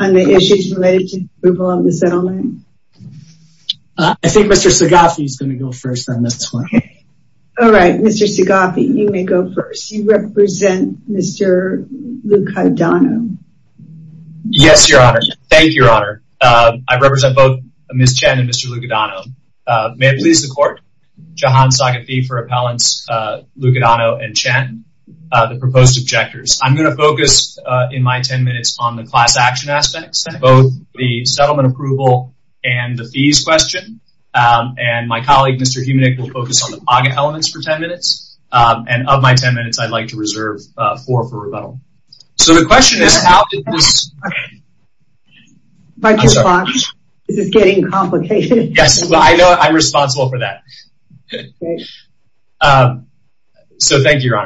On the issues related to approval of the settlement? I think Mr. Sagafi is going to go first on this one. All right, Mr. Sagafi, you may go first. You represent Mr. Lucadano. Yes, Your Honor. Thank you, Your Honor. I represent both Ms. Chen and Mr. Lucadano. May I please the court? Jahan Sagafi for appellants Lucadano and Chen. proposed objectors. I'm going to focus in my 10 minutes on the class action aspects, both the settlement approval and the fees question. And my colleague, Mr. Humanik, will focus on the pocket elements for 10 minutes. And of my 10 minutes, I'd like to reserve four for rebuttal. So the question is, how did this... If I could respond, this is getting complicated. Yes, well, I know I'm responsible for that. So thank you, Your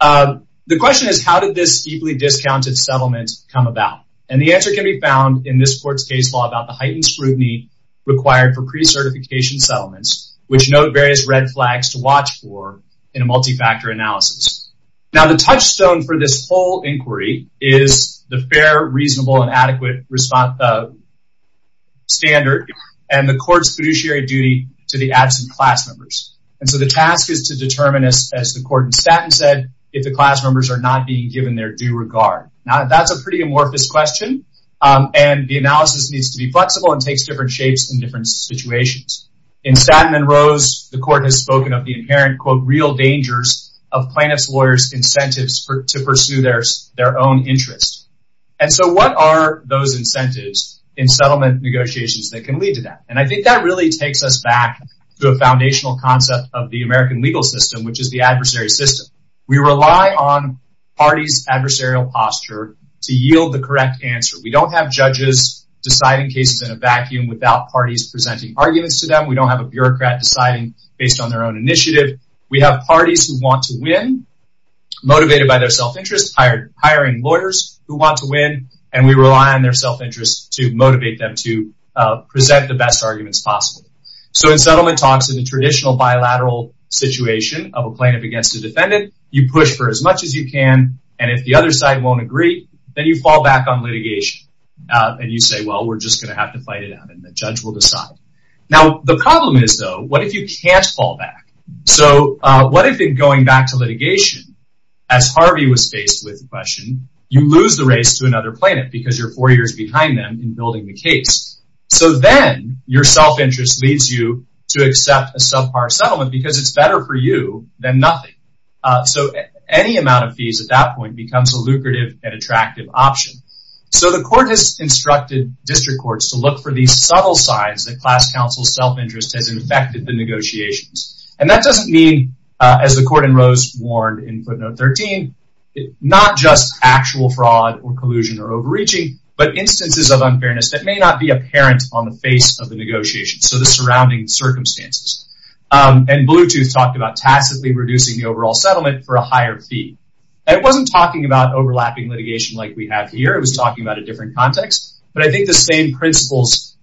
Honor. The question is, how did this deeply discounted settlement come about? And the answer can be found in this court's case law about the heightened scrutiny required for pre-certification settlements, which note various red flags to watch for in a multi-factor analysis. Now, the touchstone for this whole inquiry is the fair, reasonable, and adequate standard and the court's fiduciary duty to the absent class members. And so the task is to determine, as the court in Statton said, if the class members are not being given their due regard. Now, that's a pretty amorphous question, and the analysis needs to be flexible and takes different shapes in different situations. In Statton and Rose, the court has spoken of the inherent, quote, real dangers of plaintiff's lawyers' incentives to pursue their own interests. And so what are those incentives in settlement negotiations that can lead to that? And I think that really takes us back to a foundational concept of the American legal system, which is the adversary system. We rely on parties' adversarial posture to yield the correct answer. We don't have judges deciding cases in a vacuum without parties presenting arguments to them. We don't have a bureaucrat deciding based on their own initiative. We have parties who want to win, motivated by their self-interest, hiring lawyers who want to win, and we rely on their self-interest to motivate them to present the best arguments possible. So in settlement talks, in the traditional bilateral situation of a plaintiff against a defendant, you push for as much as you can, and if the other side won't agree, then you fall back on litigation. And you say, well, we're just going to have to fight it out, and the judge will decide. Now, the problem is, though, what if you can't fall back? So what if, in going back to litigation, as Harvey was faced with the question, you lose the race to another plaintiff because you're four years behind them in building the case? So then your self-interest leads you to accept a subpar settlement because it's better for you than nothing. So any amount of fees at that point becomes a lucrative and attractive option. So the court has instructed district courts to look for these subtle signs that class counsel self-interest has infected the negotiations. And that doesn't mean, as the court in Rose warned in footnote 13, not just actual fraud or collusion or overreaching, but instances of unfairness that may not be apparent on the face of the negotiations, so the surrounding circumstances. And Bluetooth talked about tacitly reducing the overall settlement for a higher fee. It wasn't talking about overlapping litigation like we have here. It was talking about a different context. But I think the same principles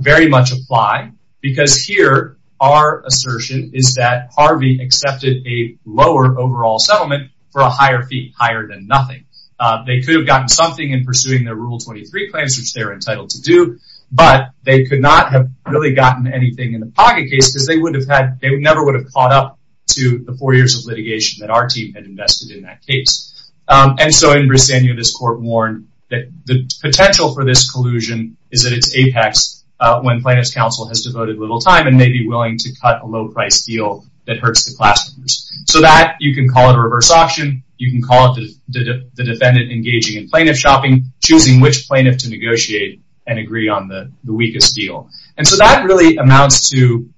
very much apply because here our assertion is that Harvey accepted a lower overall settlement for a higher fee, higher than nothing. They could have gotten something in pursuing their Rule 23 claims, which they're entitled to do, but they could not have really gotten anything in the pocket case because they would have had, they never would have caught up to the four years of litigation that our team had invested in that case. And so in Briseno, this court warned that the potential for this collusion is at its apex when plaintiff's counsel has devoted little time and may be willing to cut a low price deal that hurts the class. So that you can call it a reverse auction. You can call it the defendant engaging in plaintiff shopping, choosing which plaintiff to negotiate and agree on the weakest deal. And so that really amounts to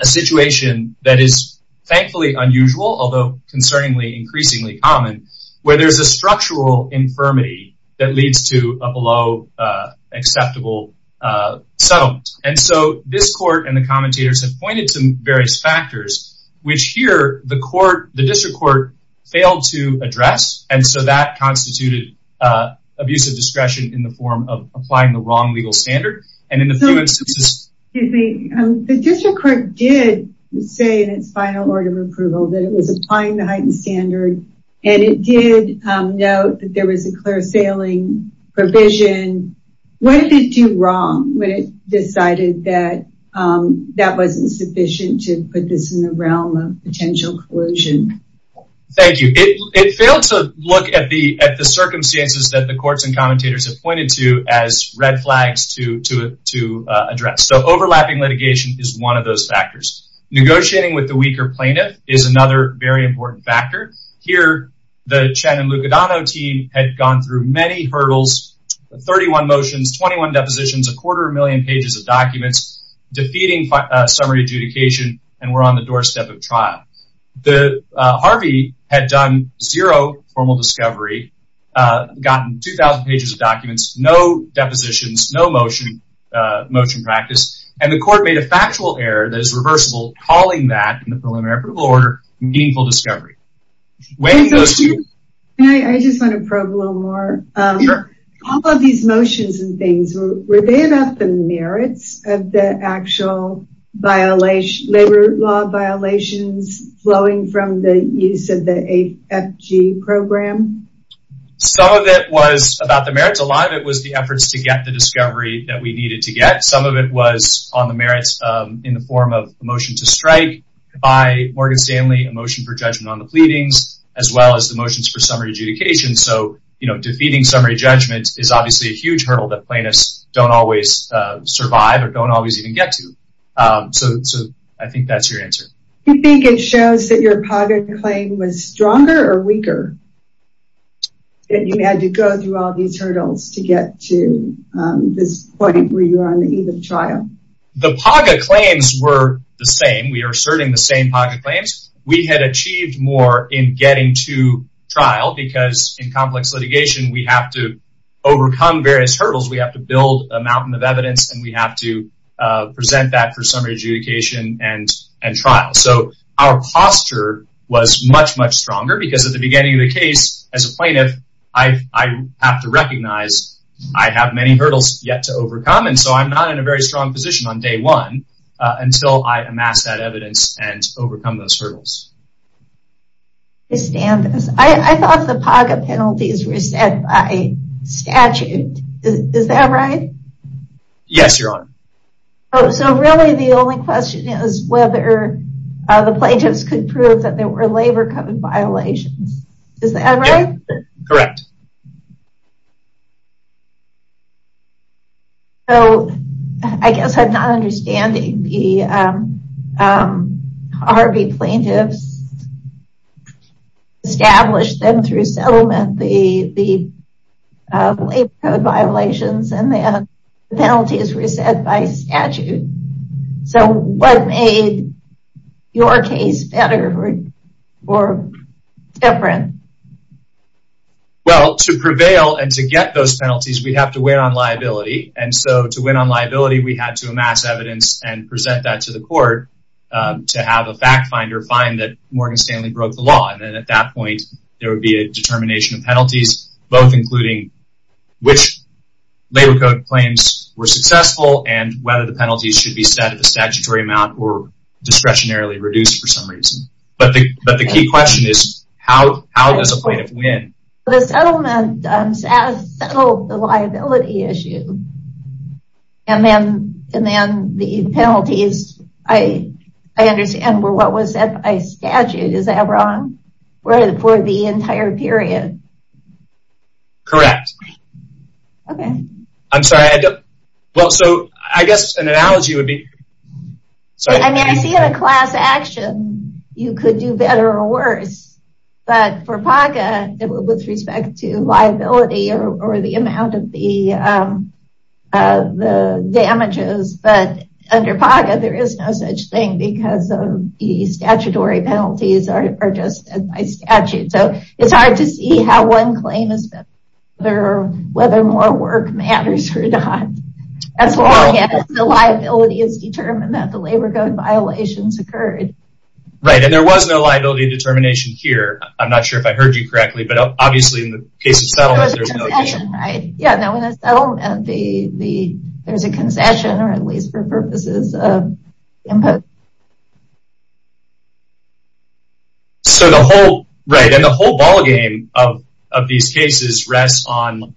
a situation that is thankfully unusual, although concerningly, increasingly common, where there's a structural infirmity that leads to a below acceptable settlement. And so this court and the commentators have pointed to various factors, which here the court, the district court failed to address. And so that constituted abuse of discretion in the form of applying the wrong legal standard. And in a few instances. Excuse me, the district court did say in its final order of approval that it was applying the heightened standard and it did note that there was a clear sailing provision. What did it do wrong when it decided that that wasn't sufficient to put this in the realm of potential collusion? Thank you. It failed to look at the at the circumstances that the courts and commentators have pointed to as red flags to address. So overlapping litigation is one of those factors. Negotiating with the weaker plaintiff is another very important factor. Here, the Chen and Lucadano team had gone through many hurdles, 31 motions, 21 depositions, a quarter million pages of documents, defeating summary adjudication and were on the doorstep of trial. The Harvey had done zero formal discovery, gotten 2,000 pages of documents, no depositions, no motion, motion practice, and the court made a factual error that is reversible, calling that in the preliminary approval order, meaningful discovery. And I just want to probe a little more. All of these motions and things, were they about the merits of the actual violation, labor law violations flowing from the use of the AFG program? Some of it was about the merits. A lot of it was the efforts to get the discovery that we needed to get. Some of it was on the merits in the form of a motion to strike by Morgan Stanley, a motion for judgment on the pleadings, as well as the motions for summary adjudication. So, you know, defeating summary judgment is obviously a huge hurdle that plaintiffs don't always survive or don't always even get to. So I think that's your answer. Do you think it shows that your PAGA claim was stronger or weaker, that you had to go through all these hurdles to get to this point where you are on the eve of trial? The PAGA claims were the same. We are asserting the same PAGA claims. We had achieved more in getting to trial because in complex litigation, we have to overcome various hurdles. We have to build a mountain of evidence and we have to present that for summary adjudication and trial. So our posture was much, much stronger because at the beginning of the case, as a plaintiff, I have to recognize I have many hurdles yet to overcome. And so I'm not in a very strong position on day one until I amass that evidence and overcome those hurdles. I thought the PAGA penalties were set by statute. Is that right? Yes, Your Honor. So really, the only question is whether the plaintiffs could prove that there were labor code violations. Is that right? Correct. So I guess I'm not understanding the Harvey plaintiffs established them through settlement, the labor code violations and the penalties were set by statute. So what made your case better or different? Well, to prevail and to get those penalties, we have to win on liability. And so to win on liability, we had to amass evidence and present that to the court to have a fact finder find that Morgan Stanley broke the law. And then at that point, there would be a determination of penalties, both including which labor code claims were successful and whether the penalties should be set at a statutory amount or discretionarily reduced for some reason. But the key question is, how does a plaintiff win? The settlement settled the liability issue. And then the penalties, I understand, were what was set by statute. Is that wrong? Where for the entire period? Correct. OK, I'm sorry. Well, so I guess an analogy would be so I mean, I see a class action. You could do better or worse. But for PACA, with respect to liability or the amount of the damages, but under PACA, there is no such thing because of the statutory penalties are just by statute. So it's hard to see how one claim is better or whether more work matters or not. As long as the liability is determined that the labor code violations occurred. Right. And there was no liability determination here. I'm not sure if I heard you correctly, but obviously in the case of settlement, there's no determination. Yeah, no, in a settlement, there's a concession or at least for purposes of impose. So the whole right and the whole ballgame of these cases rests on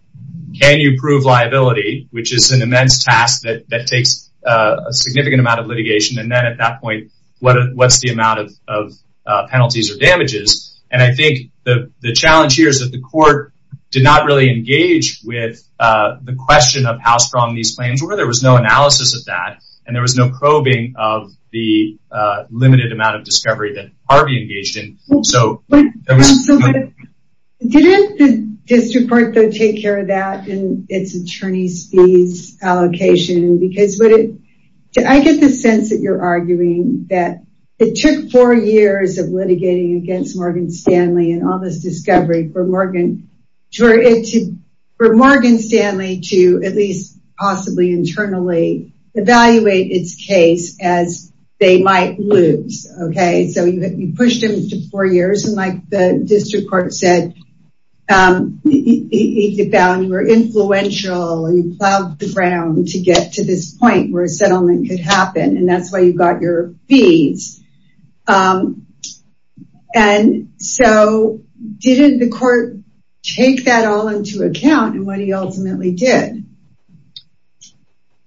can you prove liability, which is an immense task that takes a significant amount of litigation. And then at that point, what's the amount of penalties or damages? And I think the challenge here is that the court did not really engage with the question of how strong these claims were. There was no analysis of that and there was no probing of the limited amount of discovery that Harvey engaged in. So didn't the district court take care of that in its attorney's fees allocation? Because I get the sense that you're arguing that it took four years of litigating against Morgan Stanley and all this discovery for Morgan Stanley to at least possibly internally evaluate its case as they might lose. OK, so you pushed him to four years and like the district court said, he found you were influential and you plowed the ground to get to this point where a settlement could happen. And that's why you got your fees. And so didn't the court take that all into account and what he ultimately did?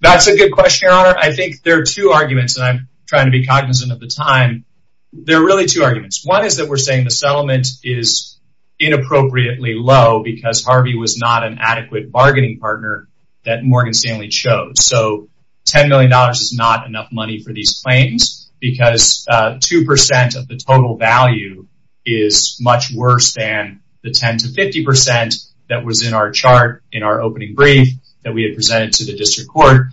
That's a good question, Your Honor. I think there are two arguments and I'm trying to be cognizant of the time. There are really two arguments. One is that we're saying the settlement is inappropriately low because Harvey was not an adequate bargaining partner that Morgan Stanley chose. So $10 million is not enough money for these claims because 2% of the total value is much worse than the 10 to 50% that was in our chart in our opening brief that we had submitted to the district court.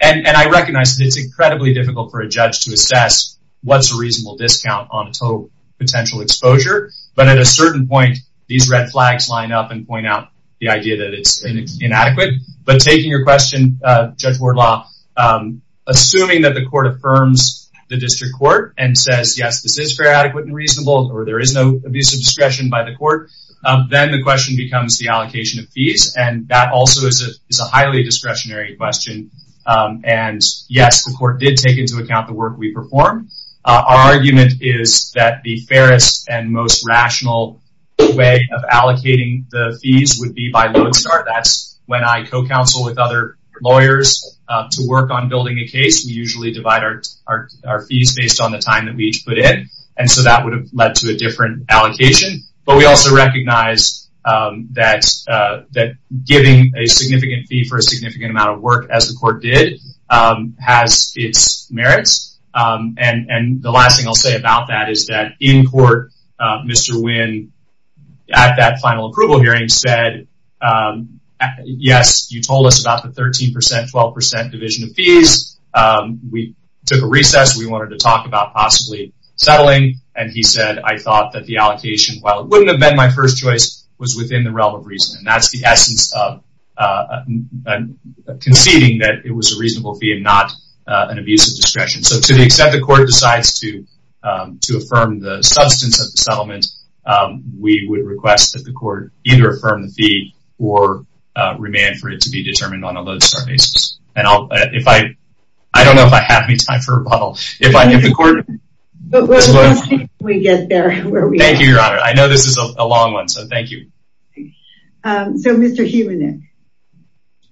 And I recognize that it's incredibly difficult for a judge to assess what's a reasonable discount on a total potential exposure. But at a certain point, these red flags line up and point out the idea that it's inadequate. But taking your question, Judge Wardlaw, assuming that the court affirms the district court and says, yes, this is fair, adequate and reasonable or there is no abuse of discretion by the court, then the question becomes the allocation of fees. And that's a really discretionary question. And yes, the court did take into account the work we perform. Our argument is that the fairest and most rational way of allocating the fees would be by load start. That's when I co-counsel with other lawyers to work on building a case. We usually divide our fees based on the time that we each put in. And so that would have led to a different allocation. But we also recognize that giving a significant fee for a significant amount of work, as the court did, has its merits. And the last thing I'll say about that is that in court, Mr. Wynn at that final approval hearing said, yes, you told us about the 13 percent, 12 percent division of fees. We took a recess. We wanted to talk about possibly settling. And he said, I thought that the allocation, while it wouldn't have been my first choice, was within the realm of reason. And that's the essence of conceding that it was a reasonable fee and not an abuse of discretion. So to the extent the court decides to to affirm the substance of the settlement, we would request that the court either affirm the fee or remand for it to be determined on a load start basis. And if I, I don't know if I have any time for rebuttal. If I, if the court. We get there. Thank you, Your Honor. I know this is a long one, so thank you. So, Mr. Heumann.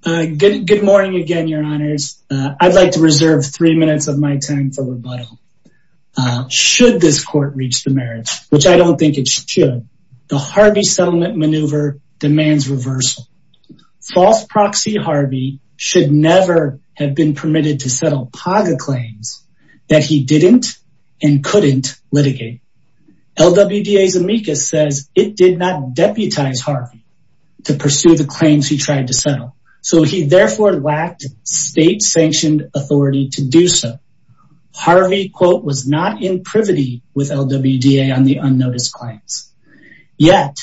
Good morning again, Your Honors. I'd like to reserve three minutes of my time for rebuttal. Should this court reach the merits, which I don't think it should, the Harvey settlement maneuver demands reversal. False proxy Harvey should never have been permitted to settle PAGA claims that he didn't and couldn't litigate. LWDA's amicus says it did not deputize Harvey to pursue the claims he tried to settle. So he therefore lacked state-sanctioned authority to do so. Harvey, quote, was not in privity with LWDA on the unnoticed claims. Yet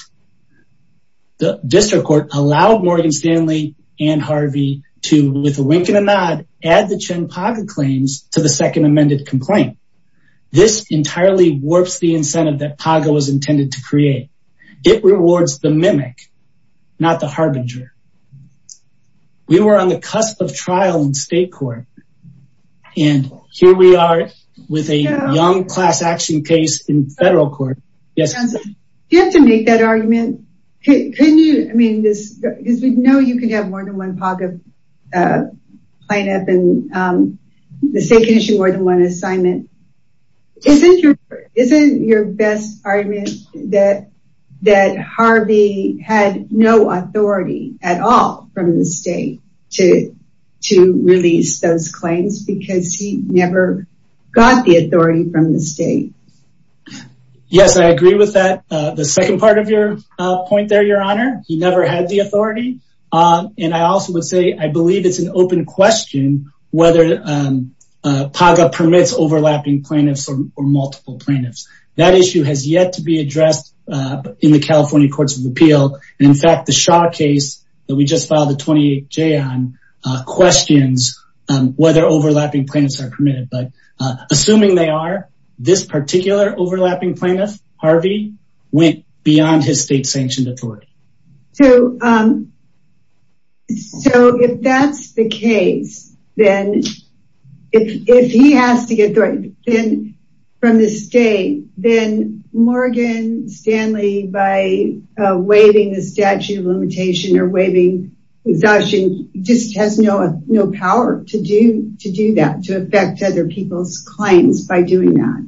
the district court allowed Morgan Stanley and Harvey to, with a wink and a nod, add the Chen PAGA claims to the second amended complaint. This entirely warps the incentive that PAGA was intended to create. It rewards the mimic, not the harbinger. We were on the cusp of trial in state court. And here we are with a young class action case in federal court. Yes, you have to make that argument. Can you? I mean, this is we know you can have more than one PAGA lineup and the state can issue more than one assignment. Isn't your best argument that that Harvey had no authority at all from the state to to release those claims because he never got the authority from the state? Yes, I agree with that. The second part of your point there, Your Honor, he never had the authority. And I also would say, I believe it's an open question whether PAGA permits overlapping plaintiffs or multiple plaintiffs. That issue has yet to be addressed in the California Courts of Appeal. And in fact, the Shaw case that we just filed a 28-J on questions whether overlapping plaintiffs are permitted, but assuming they are. This particular overlapping plaintiff, Harvey, went beyond his state sanctioned authority. So if that's the case, then if he has to get from the state, then Morgan Stanley by waiving the statute of limitation or waiving exhaustion just has no power to do that, to affect other people's claims by doing that.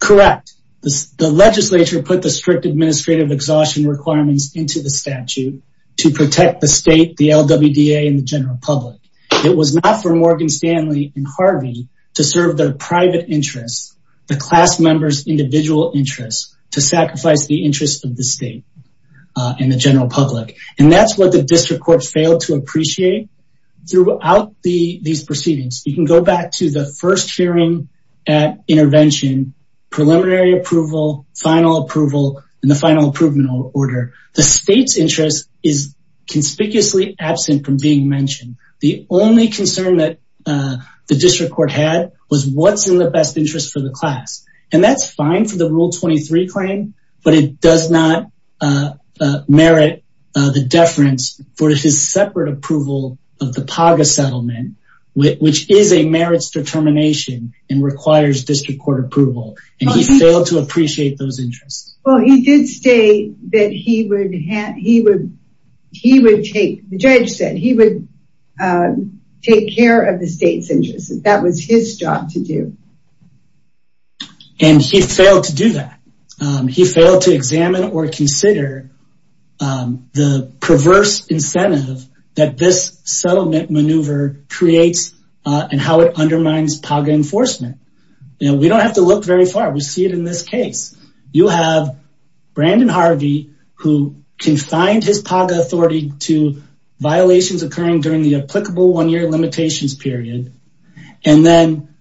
Correct. The legislature put the strict administrative exhaustion requirements into the statute to protect the state, the LWDA, and the general public. It was not for Morgan Stanley and Harvey to serve their private interests, the class members' individual interests, to sacrifice the interests of the state and the general public. And that's what the district court failed to appreciate throughout these proceedings. You can go back to the first hearing at intervention, preliminary approval, final approval, and the final approval order. The state's interest is conspicuously absent from being mentioned. The only concern that the district court had was what's in the best interest for the class. And that's fine for the Rule 23 claim, but it does not merit the deference for his separate approval of the PAGA settlement, which is a merits determination and requires district court approval. And he failed to appreciate those interests. Well, he did state that he would take, the judge said he would take care of the state's interests. That was his job to do. And he failed to do that. He failed to examine or consider the perverse incentive that this settlement maneuver creates and how it undermines PAGA enforcement. We don't have to look very far. We see it in this case. You have Brandon Harvey, who confined his PAGA authority to violations occurring during the applicable one-year limitations period. And then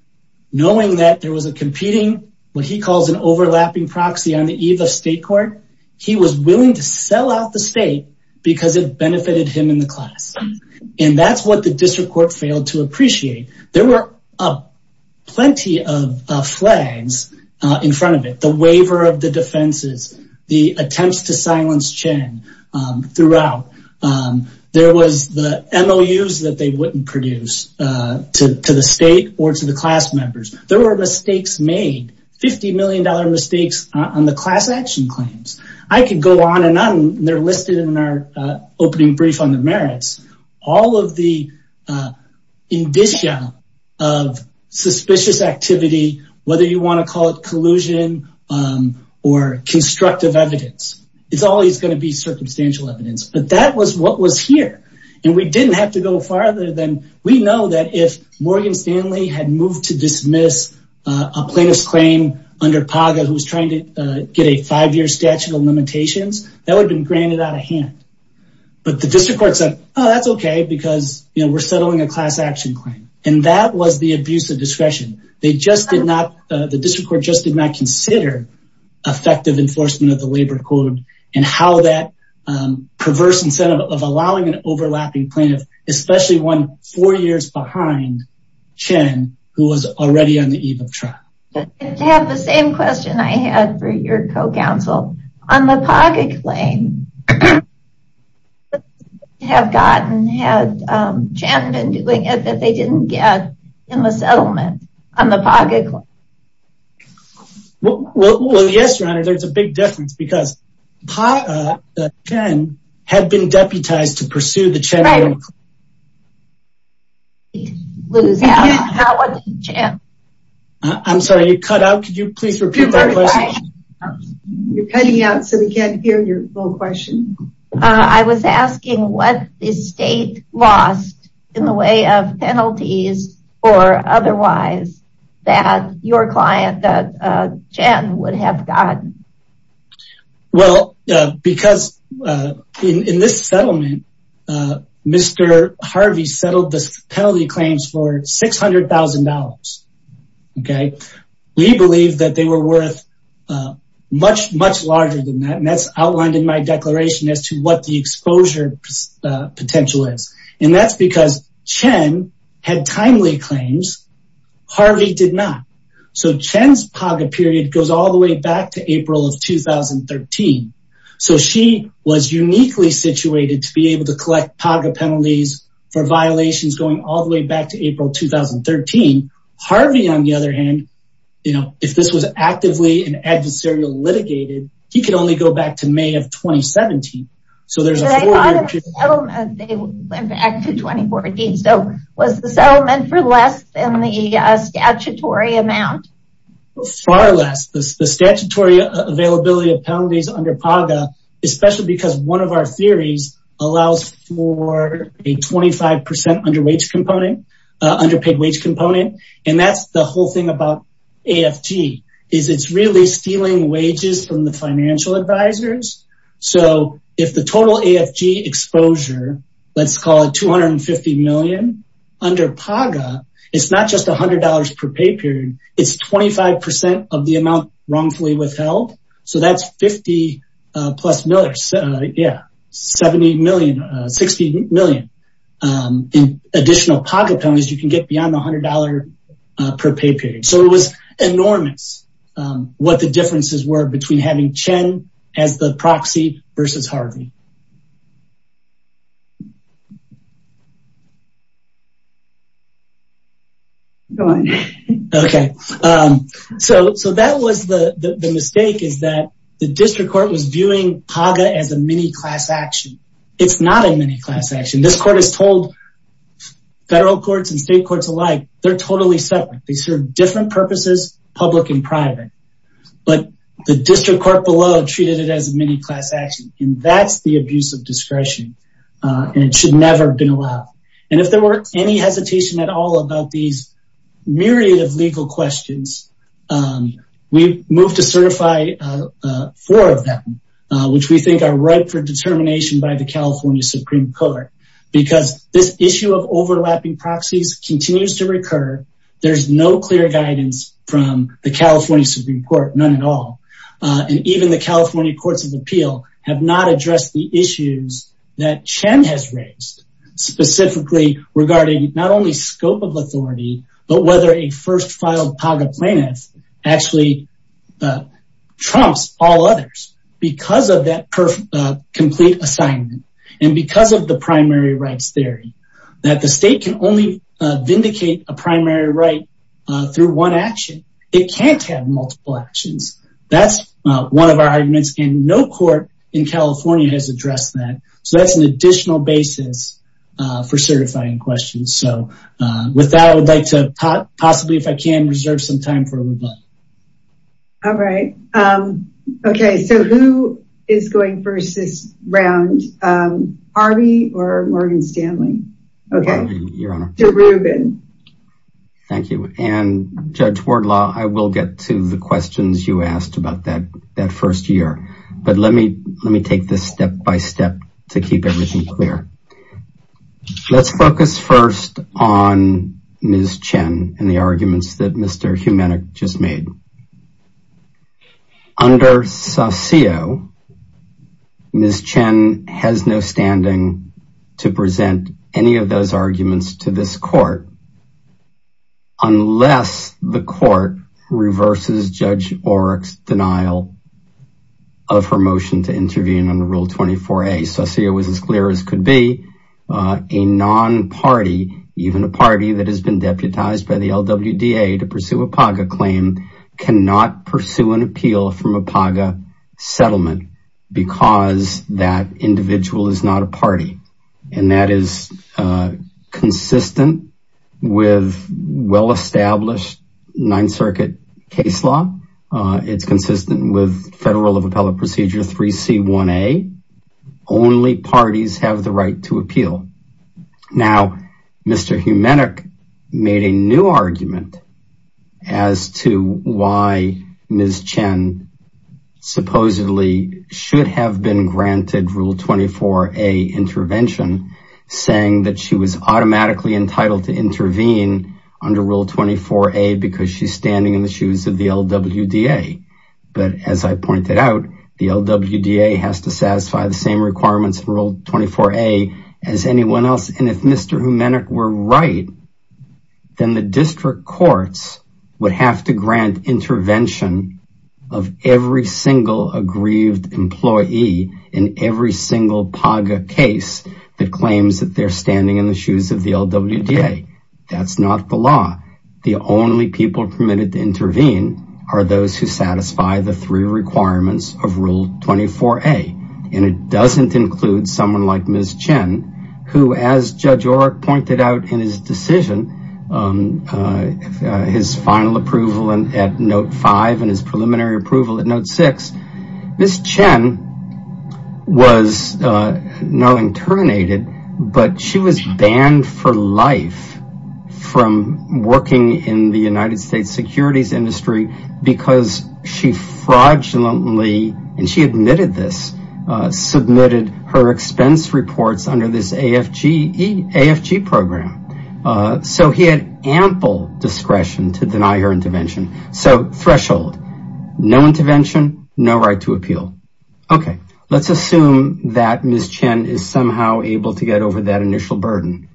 knowing that there was a competing, what he calls an overlapping proxy on the eve of state court, he was willing to sell out the state because it benefited him in the class. And that's what the district court failed to appreciate. There were plenty of flags in front of it. The waiver of the defenses, the attempts to silence Chen throughout. There was the MOUs that they wouldn't produce to the state or to the class members. There were mistakes made, $50 million mistakes on the class action claims. I could go on and on. They're listed in our opening brief on the merits. All of the indicia of suspicious activity, whether you want to call it collusion or constructive evidence, it's always going to be circumstantial evidence. But that was what was here. And we didn't have to go farther than we know that if Morgan Stanley had moved to dismiss a plaintiff's claim under PAGA, who was trying to get a five-year statute of limitations, that would have been granted out of hand. But the district court said, oh, that's okay because we're settling a class action claim. And that was the abuse of discretion. They just did not, the district court just did not consider effective enforcement of and how that perverse incentive of allowing an overlapping plaintiff, especially one four years behind Chen, who was already on the eve of trial. I have the same question I had for your co-counsel. On the PAGA claim, had Chen been doing it that they didn't get in the settlement on the PAGA claim? Well, yes, your honor, there's a big difference because PAGA, Chen had been deputized to pursue the Chen claim. I'm sorry, you cut out. Could you please repeat that question? You're cutting out so we can't hear your full question. I was asking what the state lost in the way of penalties or otherwise that your client that Chen would have gotten. Well, because in this settlement, Mr. Harvey settled this penalty claims for $600,000. We believe that they were worth much, much larger than that. And that's outlined in my declaration as to what the exposure potential is. And that's because Chen had timely claims. Harvey did not. So Chen's PAGA period goes all the way back to April of 2013. So she was uniquely situated to be able to collect PAGA penalties for violations going all the way back to April 2013. Harvey, on the other hand, if this was actively and adversarial litigated, he could only go back to May of 2017. So there's a lot of settlement. They went back to 2014. So was the settlement for less than the statutory amount? Far less. The statutory availability of penalties under PAGA, especially because one of our theories allows for a 25% underpaid wage component. And that's the whole thing about AFT, is it's really stealing wages from the financial advisors. So if the total AFG exposure, let's call it 250 million, under PAGA, it's not just $100 per pay period. It's 25% of the amount wrongfully withheld. So that's 50 plus million, yeah, 70 million, 60 million. In additional PAGA penalties, you can get beyond $100 per pay period. So it was enormous what the differences were between having Chen as the proxy versus Harvey. Go on. Okay, so that was the mistake is that the district court was viewing PAGA as a mini class action. It's not a mini class action. This court is told, federal courts and state courts alike, They serve different purposes, public and private. But the district court below treated it as a mini class action. And that's the abuse of discretion. And it should never have been allowed. And if there were any hesitation at all about these myriad of legal questions, we moved to certify four of them, which we think are ripe for determination by the California Supreme Court. Because this issue of overlapping proxies continues to recur. There's no clear guidance from the California Supreme Court, none at all. And even the California Courts of Appeal have not addressed the issues that Chen has raised, specifically regarding not only scope of authority, but whether a first filed PAGA plaintiff actually trumps all others because of that complete assignment. And because of the primary rights theory that the state can only vindicate a primary right through one action. It can't have multiple actions. That's one of our arguments and no court in California has addressed that. So that's an additional basis for certifying questions. So with that, I would like to possibly, if I can, reserve some time for rebuttal. All right. Okay, so who is going first this round? Harvey or Morgan Stanley? Okay. Thank you. And Judge Wardlaw, I will get to the questions you asked about that first year. But let me take this step by step to keep everything clear. Let's focus first on Ms. Chen and the arguments that Mr. Humanik just made. Under Saucio, Ms. Chen has no standing to present any of those arguments to this court unless the court reverses Judge Oreck's denial of her motion to intervene under Rule 24A. Saucio was as clear as could be a non-party, even a party that has been deputized by the LWDA to pursue a PAGA claim cannot pursue an appeal from a PAGA settlement because that individual is not a party. And that is consistent with well-established Ninth Circuit case law. It's consistent with Federal of Appellate Procedure 3C1A. Now, Mr. Humanik made a new argument as to why Ms. Chen supposedly should have been granted Rule 24A intervention saying that she was automatically entitled to intervene under Rule 24A because she's standing in the shoes of the LWDA. But as I pointed out, the LWDA has to satisfy the same requirements for Rule 24A as anyone else. And if Mr. Humanik were right, then the district courts would have to grant intervention of every single aggrieved employee in every single PAGA case that claims that they're standing in the shoes of the LWDA. That's not the law. The only people permitted to intervene are those who satisfy the three requirements of Rule 24A. And it doesn't include someone like Ms. Chen, who, as Judge Oreck pointed out in his decision, his final approval at Note 5 and his preliminary approval at Note 6. Ms. Chen was now interminated, but she was banned for life from working in the United States. Ms. Chen submitted her expense reports under this AFG program. So he had ample discretion to deny her intervention. So threshold, no intervention, no right to appeal. Okay, let's assume that Ms. Chen is somehow able to get over that initial burden.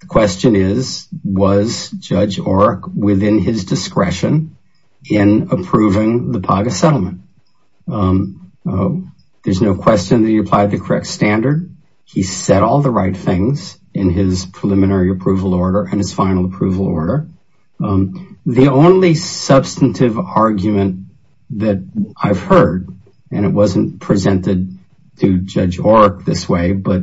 The question is, was Judge Oreck within his discretion in approving the PAGA settlement? There's no question that he applied the correct standard. He said all the right things in his preliminary approval order and his final approval order. The only substantive argument that I've heard, and it wasn't presented to Judge Oreck this way, but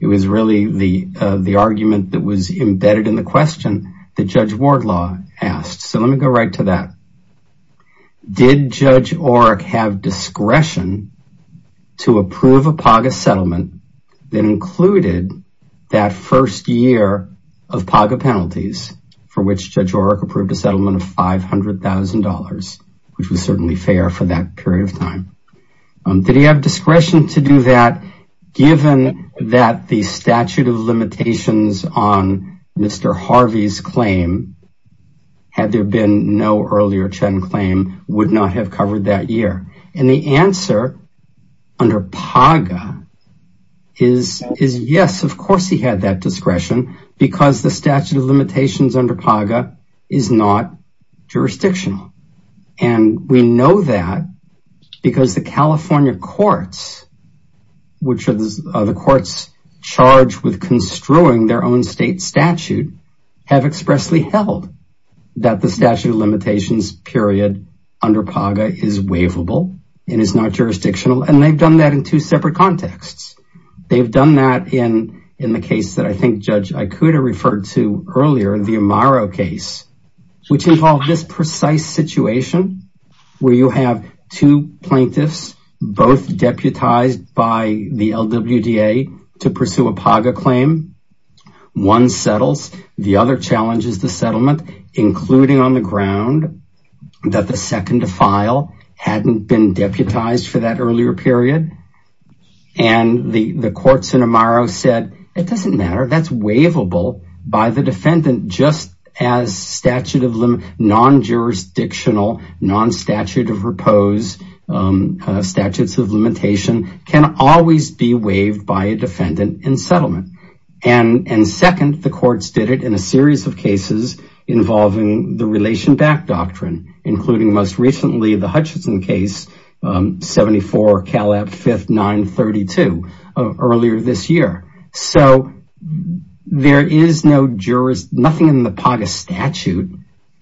it was really the argument that was embedded in the question that Judge Wardlaw asked. So let me go right to that. Did Judge Oreck have discretion to approve a PAGA settlement that included that first year of PAGA penalties for which Judge Oreck approved a settlement of $500,000, which was certainly fair for that period of time? Did he have discretion to do that given that the statute of limitations on Mr. Harvey's claim had there been no earlier Chen claim would not have covered that year? And the answer under PAGA is yes, of course he had that discretion because the statute of limitations under PAGA is not jurisdictional. And we know that because the California courts, which are the courts charged with construing their own state statute, have expressly held that the statute of limitations period under PAGA is waivable and is not jurisdictional. And they've done that in two separate contexts. They've done that in the case that I think Judge Ikuda referred to earlier, the Amaro case, which involved this precise situation where you have two plaintiffs, both deputized by the LWDA to pursue a PAGA claim. One settles. The other challenges the settlement, including on the ground that the second defile hadn't been deputized for that earlier period. And the courts in Amaro said, it doesn't matter. That's waivable by the defendant just as non-jurisdictional, non-statute of repose, statutes of limitation can always be waived by a defendant in settlement. And second, the courts did it in a series of cases involving the relation back doctrine, including most recently the Hutchinson case, 74 Calab 5th 932, earlier this year. So there is no jurist, nothing in the PAGA statute.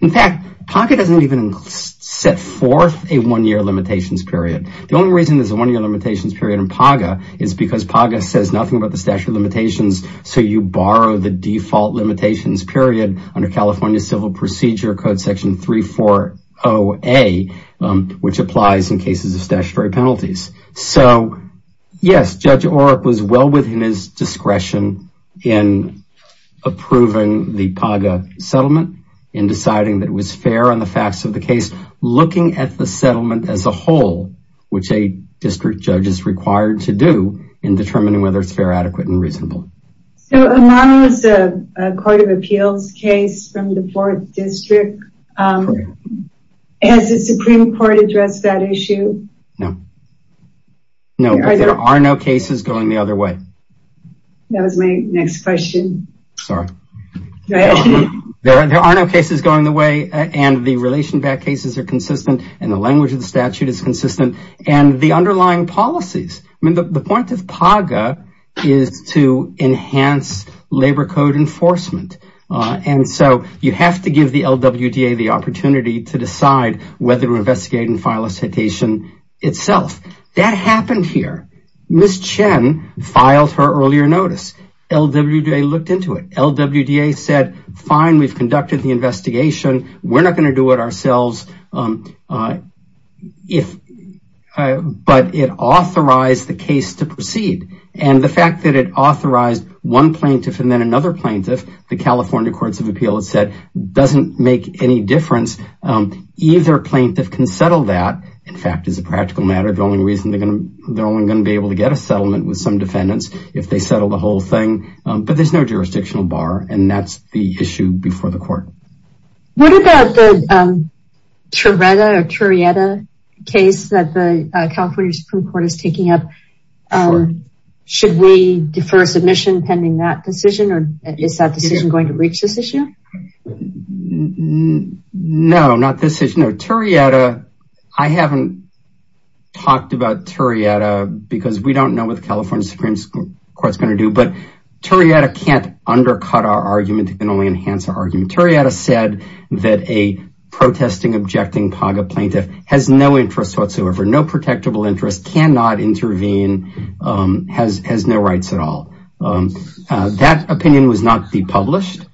In fact, PAGA doesn't even set forth a one-year limitations period. The only reason there's a one-year limitations period in PAGA is because PAGA says nothing about the statute of limitations. So you borrow the default limitations period under California Civil Procedure Code Section 340A, which applies in cases of statutory penalties. So yes, Judge Oreck was well within his discretion in approving the PAGA settlement and deciding that it was fair on the facts of the case, looking at the settlement as a whole, which a district judge is required to do in determining whether it's fair, adequate, and reasonable. So Amaro is a court of appeals case from the fourth district. Has the Supreme Court addressed that issue? No. No, there are no cases going the other way. That was my next question. Sorry. There are no cases going the way, and the relation back cases are consistent, and the language of the statute is consistent, and the underlying policies. I mean, the point of PAGA is to enhance labor code enforcement. And so you have to give the LWDA the opportunity to decide whether to investigate and file a complaint itself. That happened here. Ms. Chen filed her earlier notice. LWDA looked into it. LWDA said, fine, we've conducted the investigation. We're not going to do it ourselves. But it authorized the case to proceed. And the fact that it authorized one plaintiff and then another plaintiff, the California Courts of Appeals said, doesn't make any difference. Either plaintiff can settle that. In fact, it's a practical matter. The only reason they're only going to be able to get a settlement with some defendants if they settle the whole thing. But there's no jurisdictional bar. And that's the issue before the court. What about the Trireta case that the California Supreme Court is taking up? Should we defer submission pending that decision? Or is that decision going to reach this issue? No, not this issue. No, Trireta, I haven't talked about Trireta because we don't know what the California Supreme Court's going to do. But Trireta can't undercut our argument. It can only enhance our argument. Trireta said that a protesting, objecting PAGA plaintiff has no interest whatsoever, no protectable interest, cannot intervene, has no rights at all. That opinion was not depublished,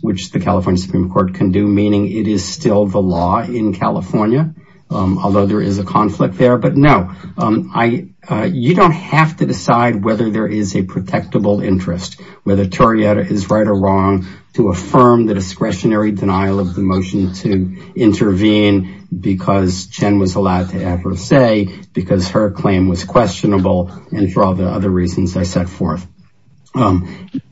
which the California Supreme Court can do, meaning it is still the law in California, although there is a conflict there. But no, you don't have to decide whether there is a protectable interest. Whether Trireta is right or wrong to affirm the discretionary denial of the motion to intervene because Chen was allowed to have her say, because her claim was questionable, and for all the other reasons I set forth.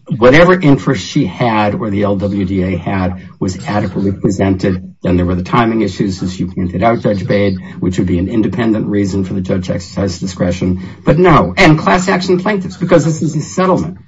Whatever interest she had, or the LWDA had, was adequately presented. Then there were the timing issues, as you pointed out, Judge Bade, which would be an independent reason for the judge's discretion. But no. And class action plaintiffs, because this is a settlement.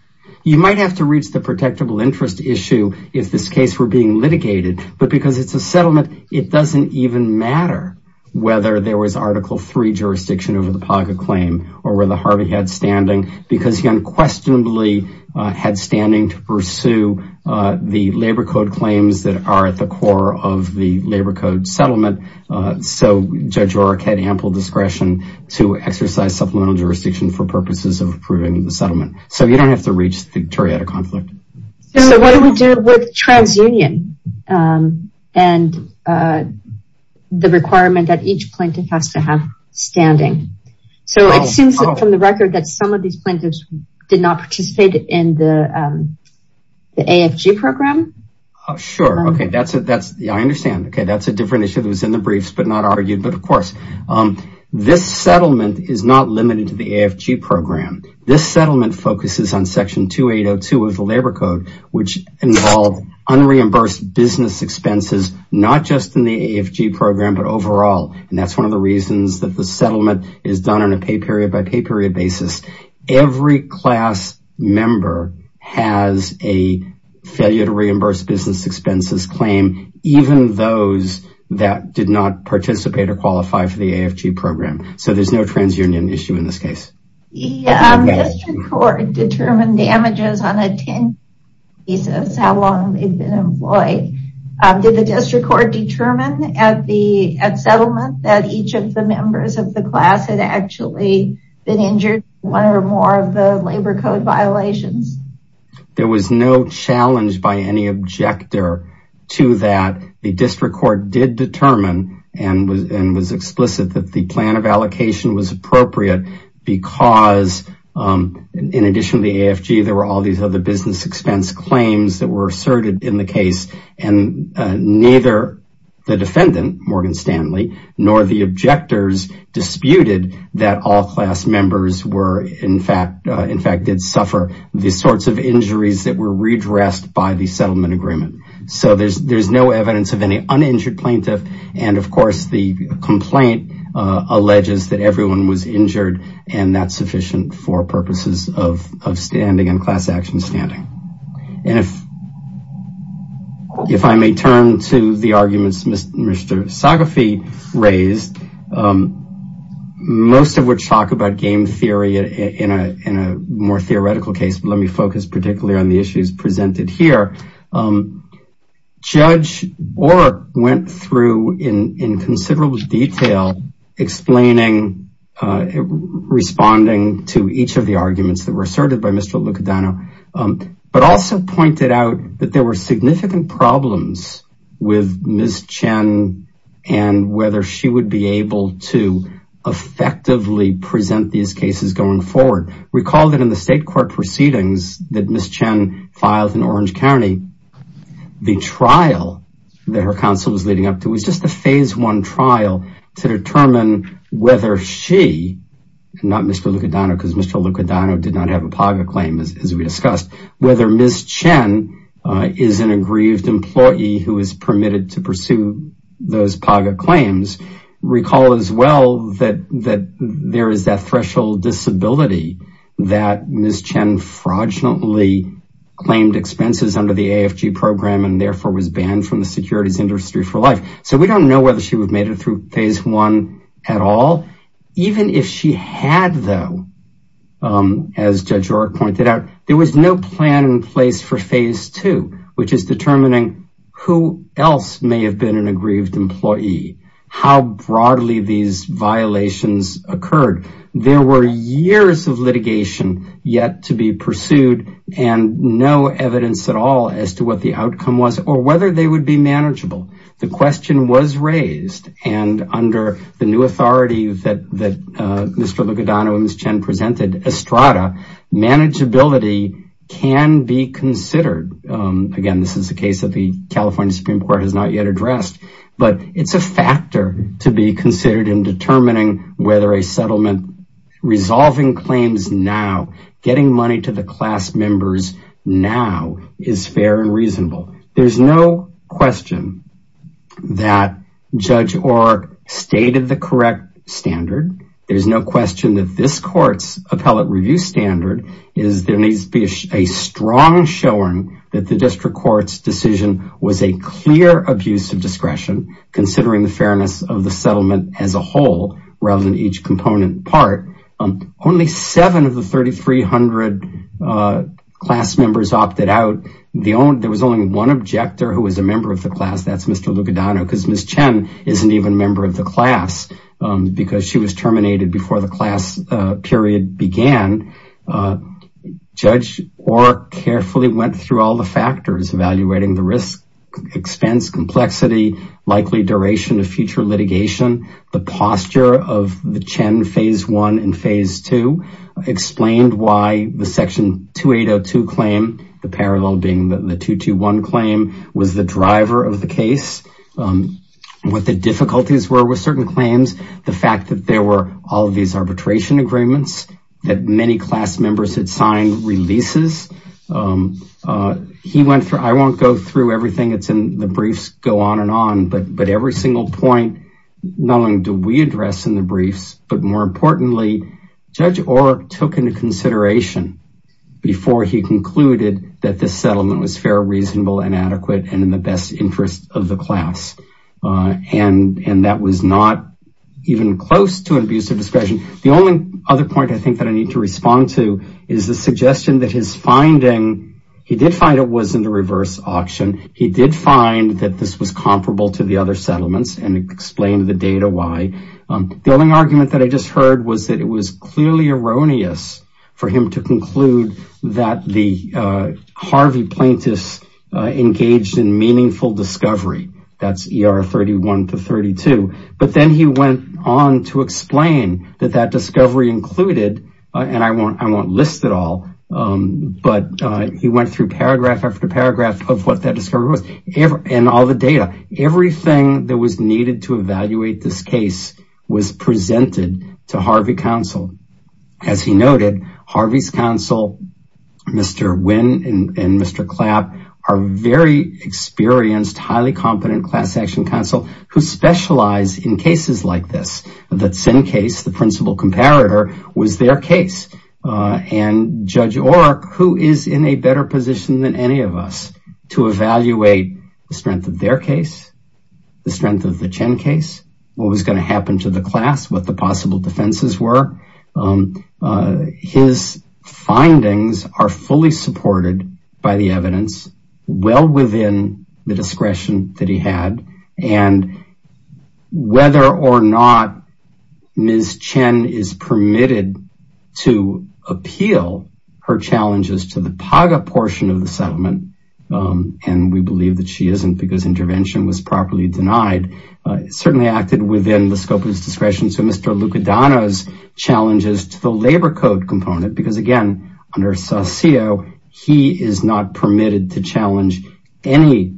You might have to reach the protectable interest issue if this case were being litigated. But because it's a settlement, it doesn't even matter whether there was Article III jurisdiction over the PACA claim, or whether Harvey had standing, because he unquestionably had standing to pursue the labor code claims that are at the core of the labor code settlement. So Judge Oreck had ample discretion to exercise supplemental jurisdiction for purposes of approving the settlement. So you don't have to reach the Trireta conflict. So what do we do with TransUnion? And the requirement that each plaintiff has to have standing. So it seems from the record that some of these plaintiffs did not participate in the AFG program. Sure. Okay. That's it. That's I understand. Okay. That's a different issue that was in the briefs, but not argued. But of course, this settlement is not limited to the AFG program. This settlement focuses on Section 2802 of the labor code, which involved unreimbursed business expenses, not just in the AFG program, but overall. And that's one of the reasons that the settlement is done on a pay period by pay period basis. Every class member has a failure to reimburse business expenses claim, even those that did not participate or qualify for the AFG program. So there's no TransUnion issue in this case. District court determined damages on a 10-year basis, how long they've been employed. Did the district court determine at the settlement that each of the members of the class had actually been injured one or more of the labor code violations? There was no challenge by any objector to that. The district court did determine and was explicit that the plan of allocation was appropriate because in addition to the AFG, there were all these other business expense claims that were asserted in the case. And neither the defendant, Morgan Stanley, nor the objectors disputed that all class members in fact did suffer the sorts of injuries that were redressed by the settlement agreement. So there's no evidence of any uninjured plaintiff. And of course, the complaint alleges that everyone was injured and that's sufficient for purposes of standing and class action standing. And if I may turn to the arguments Mr. Sagafe raised, most of which talk about game theory in a more theoretical case, but let me focus particularly on the issues presented here. Judge Orr went through in considerable detail explaining, responding to each of the arguments that were asserted by Mr. Lucadano, but also pointed out that there were significant problems with Ms. Chen and whether she would be able to effectively present these cases going forward. Recall that in the state court proceedings that Ms. Chen filed in Orange County, the trial that her counsel was leading up to was just a phase one trial to determine whether she, not Mr. Lucadano, because Mr. Lucadano did not have a PAGA claim as we discussed, whether Ms. Chen is an aggrieved employee who is permitted to pursue those PAGA claims. Recall as well that there is that threshold disability that Ms. Chen fraudulently claimed expenses under the AFG program and therefore was banned from the securities industry for life. So we don't know whether she would have made it through phase one at all. Even if she had though, as Judge Orr pointed out, there was no plan in place for phase two, which is determining who else may have been an aggrieved employee, how broadly these violations occurred. There were years of litigation yet to be pursued and no evidence at all as to what the outcome was or whether they would be manageable. The question was raised and under the new authority that Mr. Lucadano and Ms. Chen presented, Estrada, manageability can be considered. Again, this is a case that the California Supreme Court has not yet addressed, but it's a factor to be considered in determining whether a settlement resolving claims now, getting money to the class members now is fair and reasonable. There's no question that Judge Orr stated the correct standard. There's no question that this appellate review standard is a strong showing that the district court's decision was a clear abuse of discretion considering the fairness of the settlement as a whole rather than each component part. Only seven of the 3,300 class members opted out. There was only one objector who was a member of the class. That's Mr. Lucadano because Ms. Chen isn't even a member of the class because she was terminated before the class period began. Judge Orr carefully went through all the factors evaluating the risk, expense, complexity, likely duration of future litigation, the posture of the Chen phase one and phase two, explained why the section 2802 claim, the parallel being the 221 claim, was the driver of the case. Um, what the difficulties were with certain claims, the fact that there were all of these arbitration agreements that many class members had signed releases. Um, uh, he went through, I won't go through everything that's in the briefs, go on and on, but, but every single point, not only do we address in the briefs, but more importantly, Judge Orr took into consideration before he concluded that this settlement was fair, reasonable and adequate and in the best interest of the class. Uh, and, and that was not even close to an abuse of discretion. The only other point I think that I need to respond to is the suggestion that his finding, he did find it was in the reverse auction. He did find that this was comparable to the other settlements and explained the data. Why? Um, the only argument that I just heard was that it was that's ER 31 to 32, but then he went on to explain that that discovery included, and I won't, I won't list it all. Um, but, uh, he went through paragraph after paragraph of what that discovery was and all the data, everything that was needed to evaluate this case was presented to Harvey counsel. As he noted, Harvey's counsel, Mr. Wynn and Mr. Clapp are very experienced, highly competent class action counsel who specialize in cases like this, that's in case the principal comparator was their case. Uh, and Judge Orr, who is in a better position than any of us to evaluate the strength of their case, the strength of the Chen case, what was going to happen to the class, what the possible defenses were. Um, uh, his findings are fully supported by the evidence well within the discretion that he had and whether or not Ms. Chen is permitted to appeal her challenges to the PAGA portion of the settlement. Um, and we believe that she isn't because intervention was properly denied, uh, certainly acted within the scope of his discretion. So Mr. Lucadano's challenges to the labor code component, because again, under Saucillo, he is not permitted to challenge any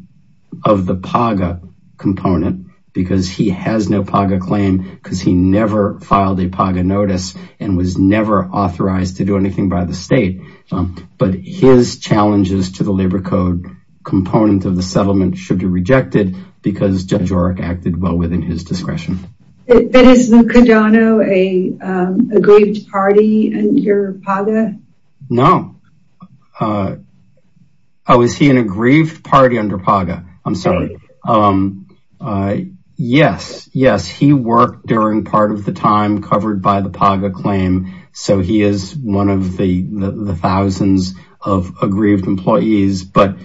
of the PAGA component because he has no PAGA claim because he never filed a PAGA notice and was never authorized to do anything by the state. Um, but his challenges to the labor code component of the settlement should be rejected because Judge Orr acted well within his discretion. Is Lucadano an aggrieved party under PAGA? No. Uh, oh, is he an aggrieved party under PAGA? I'm sorry. Um, uh, yes, yes, he worked during part of the time covered by the PAGA claim. So he is one of the thousands of aggrieved employees, but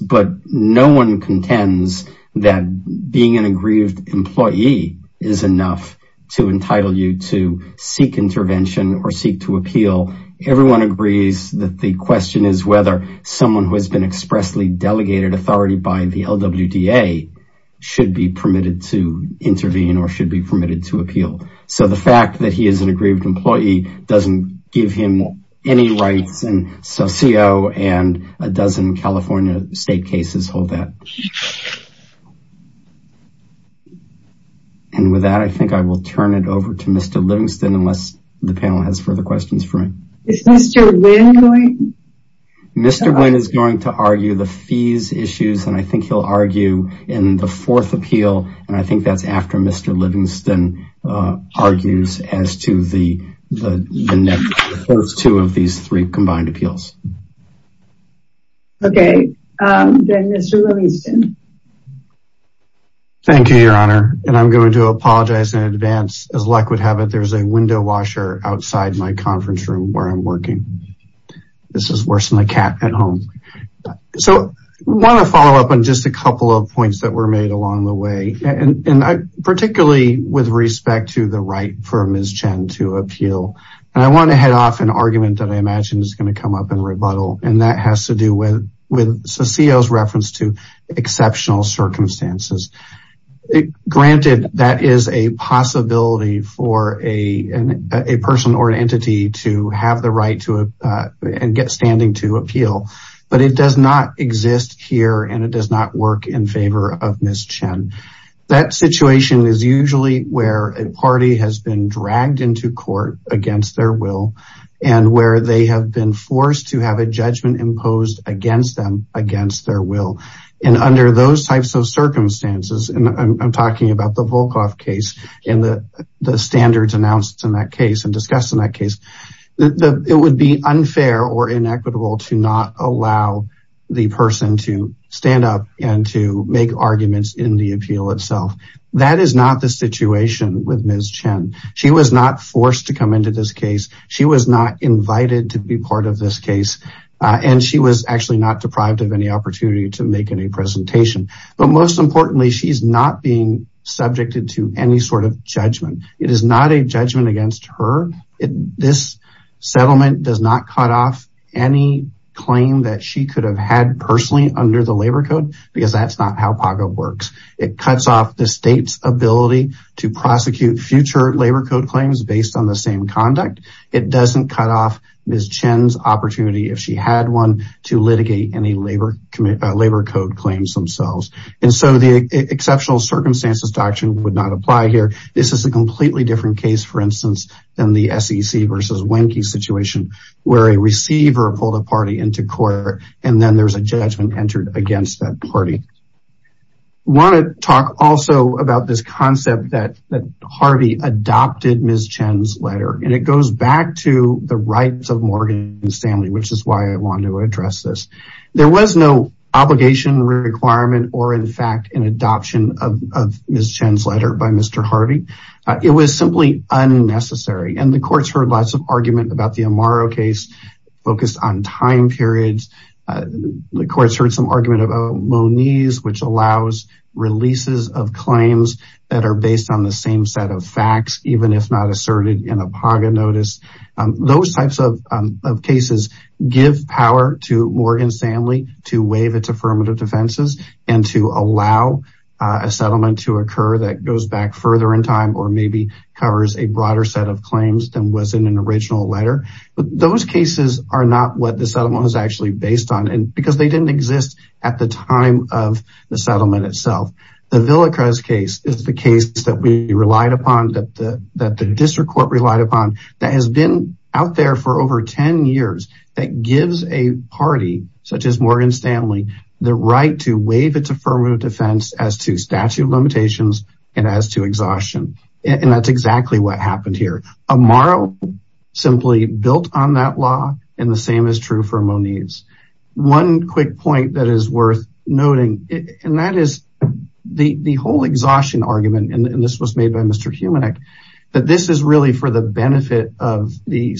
no one contends that being an aggrieved employee is enough to entitle you to seek intervention or seek to appeal. Everyone agrees that the question is whether someone who has been expressly delegated authority by the LWDA should be permitted to intervene or should be permitted to appeal. So the fact that he is an aggrieved employee doesn't give him any rights and Saucillo and a dozen California state cases hold that. And with that, I think I will turn it over to Mr. Livingston unless the panel has further questions for me. Is Mr. Wynn going? Mr. Wynn is going to argue the fees issues and I think he'll argue in the fourth appeal and I think that's after Mr. Livingston, uh, argues as to the, the next two of these three combined appeals. Okay. Um, then Mr. Livingston. Thank you, your honor. And I'm going to apologize in advance. As luck would have it, there's a window washer outside my conference room where I'm working. This is worse than my cat at home. So I want to follow up on just a couple of points that were made along the way. And particularly with respect to the right for Ms. Chen to appeal. And I want to head off an argument that I imagine is going to come up in rebuttal. And that has to do with Saucillo's reference to exceptional circumstances. Granted that is a possibility for a person or an entity to have the right to, uh, and get standing to appeal, but it does not exist here and it does work in favor of Ms. Chen. That situation is usually where a party has been dragged into court against their will and where they have been forced to have a judgment imposed against them, against their will. And under those types of circumstances, and I'm talking about the Volkoff case and the standards announced in that case and discussed in that case, it would be unfair or inequitable to not allow the person to stand up and to make arguments in the appeal itself. That is not the situation with Ms. Chen. She was not forced to come into this case. She was not invited to be part of this case. And she was actually not deprived of any opportunity to make any presentation. But most importantly, she's not being subjected to any judgment. It is not a judgment against her. This settlement does not cut off any claim that she could have had personally under the labor code, because that's not how PAGO works. It cuts off the state's ability to prosecute future labor code claims based on the same conduct. It doesn't cut off Ms. Chen's opportunity if she had one to litigate any labor code claims themselves. And so the exceptional circumstances doctrine would not apply here. This is a completely different case, for instance, than the SEC versus Wenke situation, where a receiver pulled a party into court, and then there's a judgment entered against that party. I want to talk also about this concept that Harvey adopted Ms. Chen's letter. And it goes back to the rights of Morgan Stanley, which is why I wanted to address this. There was no obligation requirement, or in fact, an adoption of Ms. Chen's letter by Mr. Harvey. It was simply unnecessary. And the courts heard lots of argument about the Amaro case, focused on time periods. The courts heard some argument about Moniz, which allows releases of claims that are based on the same set of facts, even if not give power to Morgan Stanley to waive its affirmative defenses, and to allow a settlement to occur that goes back further in time, or maybe covers a broader set of claims than was in an original letter. But those cases are not what the settlement was actually based on, because they didn't exist at the time of the settlement itself. The Villa Cruz case is the case that we relied upon, that has been out there for over 10 years, that gives a party such as Morgan Stanley, the right to waive its affirmative defense as to statute of limitations, and as to exhaustion. And that's exactly what happened here. Amaro simply built on that law, and the same is true for Moniz. One quick point that is worth noting, and that is the whole exhaustion argument, and of the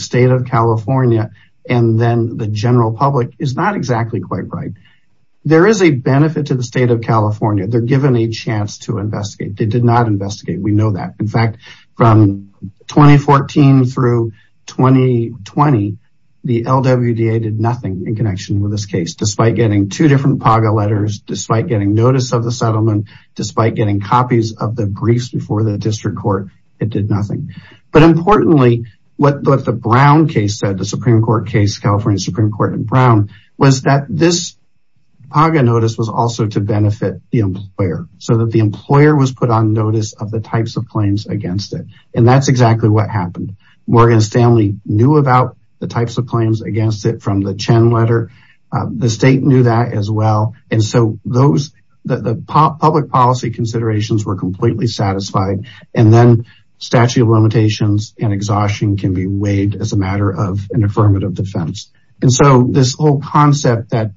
state of California, and then the general public, is not exactly quite right. There is a benefit to the state of California, they're given a chance to investigate. They did not investigate, we know that. In fact, from 2014 through 2020, the LWDA did nothing in connection with this case, despite getting two different PAGA letters, despite getting notice of the settlement, despite getting copies of the briefs before the district court, it did nothing. But importantly, what the Brown case said, the Supreme Court case, California Supreme Court and Brown, was that this PAGA notice was also to benefit the employer, so that the employer was put on notice of the types of claims against it. And that's exactly what happened. Morgan Stanley knew about the types of claims against it from the Chen letter, the state knew that as well, and so those, the public policy considerations were completely satisfied. And then statute of limitations and exhaustion can be waived as a matter of an affirmative defense. And so this whole concept that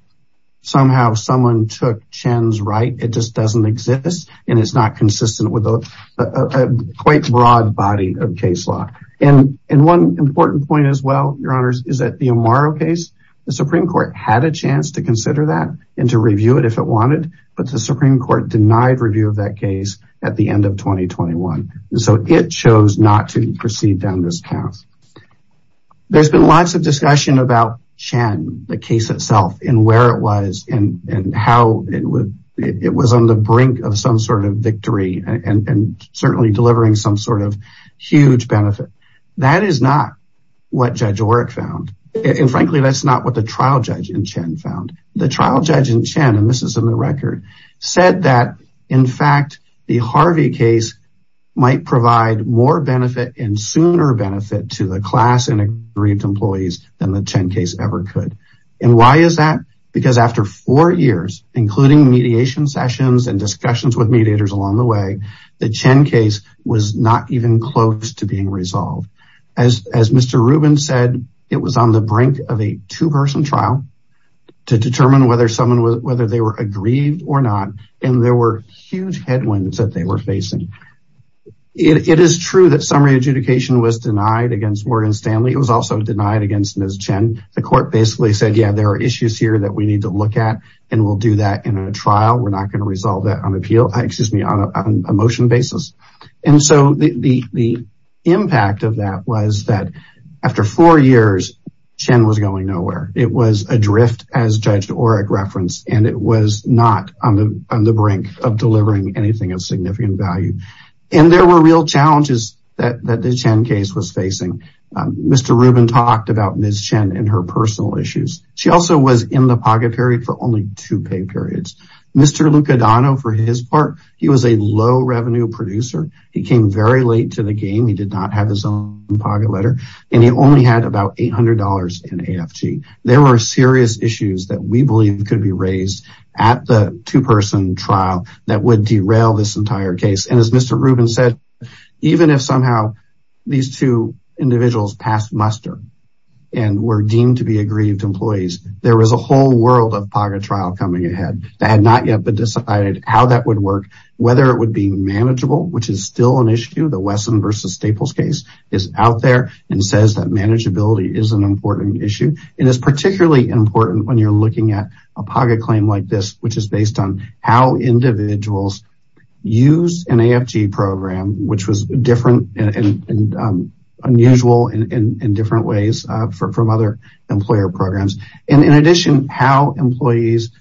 somehow someone took Chen's right, it just doesn't exist, and it's not consistent with a quite broad body of case law. And one important point as well, your honors, is that the Amaro case, the Supreme Court had a chance to consider that and to review it if it wanted, but the Supreme Court denied review of that case at the end of 2021. And so it chose not to proceed down this path. There's been lots of discussion about Chen, the case itself, and where it was, and how it was on the brink of some sort of victory, and certainly delivering some sort of huge benefit. That is not what Judge Oreck found. And frankly, that's not what the trial judge in Chen, and this is in the record, said that, in fact, the Harvey case might provide more benefit and sooner benefit to the class and agreed employees than the Chen case ever could. And why is that? Because after four years, including mediation sessions and discussions with mediators along the way, the Chen case was not even close to being resolved. As Mr. Rubin said, it was on the brink of a two-person trial to determine whether they were aggrieved or not. And there were huge headwinds that they were facing. It is true that summary adjudication was denied against Morgan Stanley. It was also denied against Ms. Chen. The court basically said, yeah, there are issues here that we need to look at, and we'll do that in a trial. We're not going to resolve that on a motion basis. And so the impact of that was that after four years, Chen was going nowhere. It was adrift, as Judge Oreck referenced, and it was not on the brink of delivering anything of significant value. And there were real challenges that the Chen case was facing. Mr. Rubin talked about Ms. Chen and her personal issues. She also was in the pocket period for only two pay periods. Mr. Lucadano, for his part, he was a low revenue producer. He came very late to the game. He did not have his own pocket letter, and he only had about $800 in AFG. There were serious issues that we believe could be raised at the two-person trial that would derail this entire case. And as Mr. Rubin said, even if somehow these two individuals passed muster and were deemed to be aggrieved employees, there was a whole world of pocket coming ahead. They had not yet decided how that would work, whether it would be manageable, which is still an issue. The Wesson v. Staples case is out there and says that manageability is an important issue. And it's particularly important when you're looking at a pocket claim like this, which is based on how individuals use an AFG program, which was different and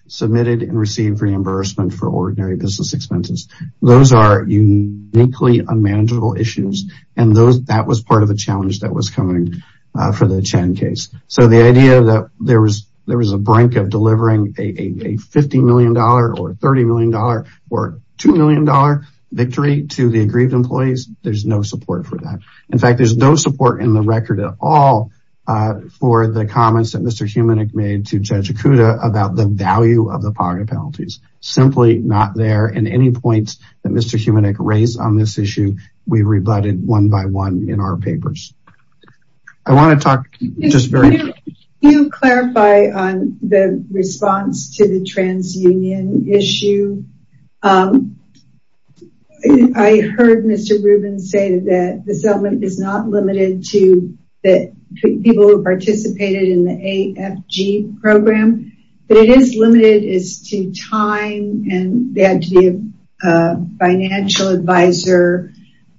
submitted and received reimbursement for ordinary business expenses. Those are uniquely unmanageable issues. And that was part of the challenge that was coming for the Chen case. So the idea that there was a brink of delivering a $50 million or $30 million or $2 million victory to the aggrieved employees, there's no support for that. In fact, there's no support in the of the pocket penalties, simply not there. And any points that Mr. Humanic raised on this issue, we rebutted one by one in our papers. I want to talk just very quickly. You clarify on the response to the trans union issue. I heard Mr. Rubin say that the settlement is not limited to the people who participated in the AFG program, but it is limited to time and they had to be a financial advisor.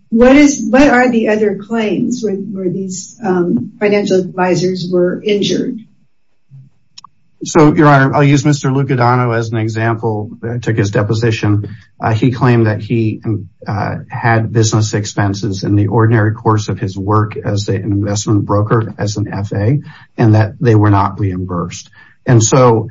What are the other claims where these financial advisors were injured? So your honor, I'll use Mr. Lucadano as an example. I took his deposition. He claimed that he had business expenses in the ordinary course of his work as an investment broker, as an FA, and that they were not reimbursed. And so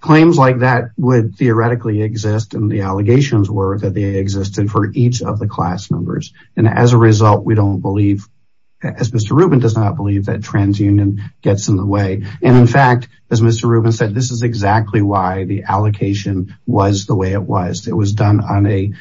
claims like that would theoretically exist. And the allegations were that they existed for each of the class numbers. And as a result, we don't believe, as Mr. Rubin does not believe that trans union gets in the way. And in fact, as Mr. Rubin said, this is exactly why the allocation was the way it was. It was done on a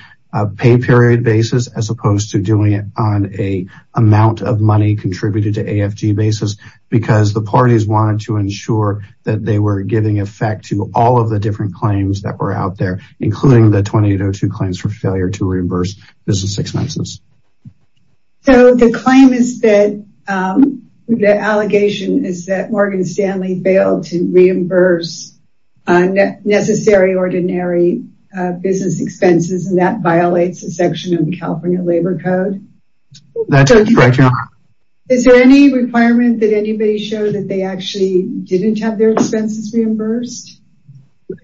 pay period basis, as opposed to doing it on a amount of money contributed to AFG basis, because the parties wanted to ensure that they were giving effect to all of the different claims that were out there, including the 2802 claims for failure to reimburse business expenses. So the claim is that the allegation is that Morgan Stanley failed to reimburse necessary ordinary business expenses, and that violates a section of the California labor code? That's correct, your honor. Is there any requirement that anybody showed that they actually didn't have their expenses reimbursed?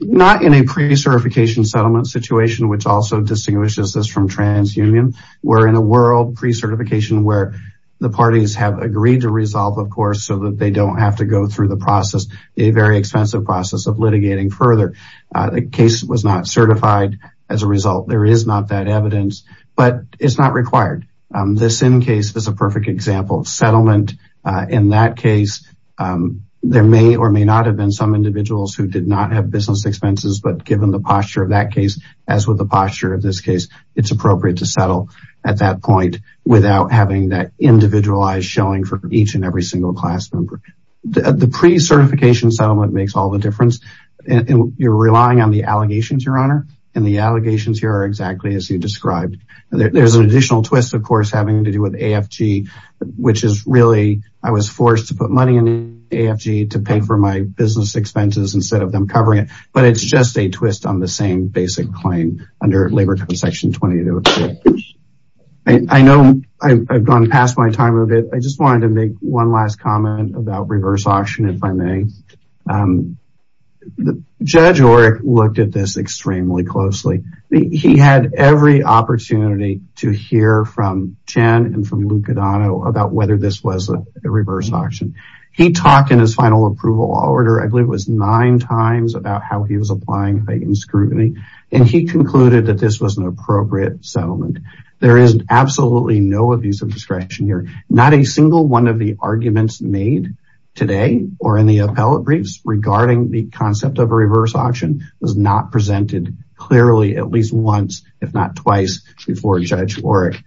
Not in a pre-certification settlement situation, which also distinguishes us from trans union. We're in a world pre-certification where the parties have agreed to resolve, of course, so that they don't have to go through the process, a very expensive process of litigating further. The case was not certified. As a result, there is not that evidence, but it's not required. This in case is a perfect example of settlement. In that case, there may or may not have been some individuals who did not have business expenses, but given the posture of that case, as with the posture of this case, it's appropriate to settle at that point without having that individualized showing for each and every single class member. The pre-certification settlement makes all the difference. You're relying on the allegations, your honor, and the allegations here are exactly as you described. There's an additional twist, of course, having to do with AFG, which is really, I was forced to put money into AFG to pay for my expenses instead of them covering it, but it's just a twist on the same basic claim under labor code section 22. I know I've gone past my time a bit. I just wanted to make one last comment about reverse auction, if I may. Judge Oreck looked at this extremely closely. He had every opportunity to hear from Chen and from Lucadano about whether this was a approval order. I believe it was nine times about how he was applying scrutiny, and he concluded that this was an appropriate settlement. There is absolutely no abuse of discretion here. Not a single one of the arguments made today or in the appellate briefs regarding the concept of a reverse auction was not presented clearly at least once, if not twice, before Judge Oreck.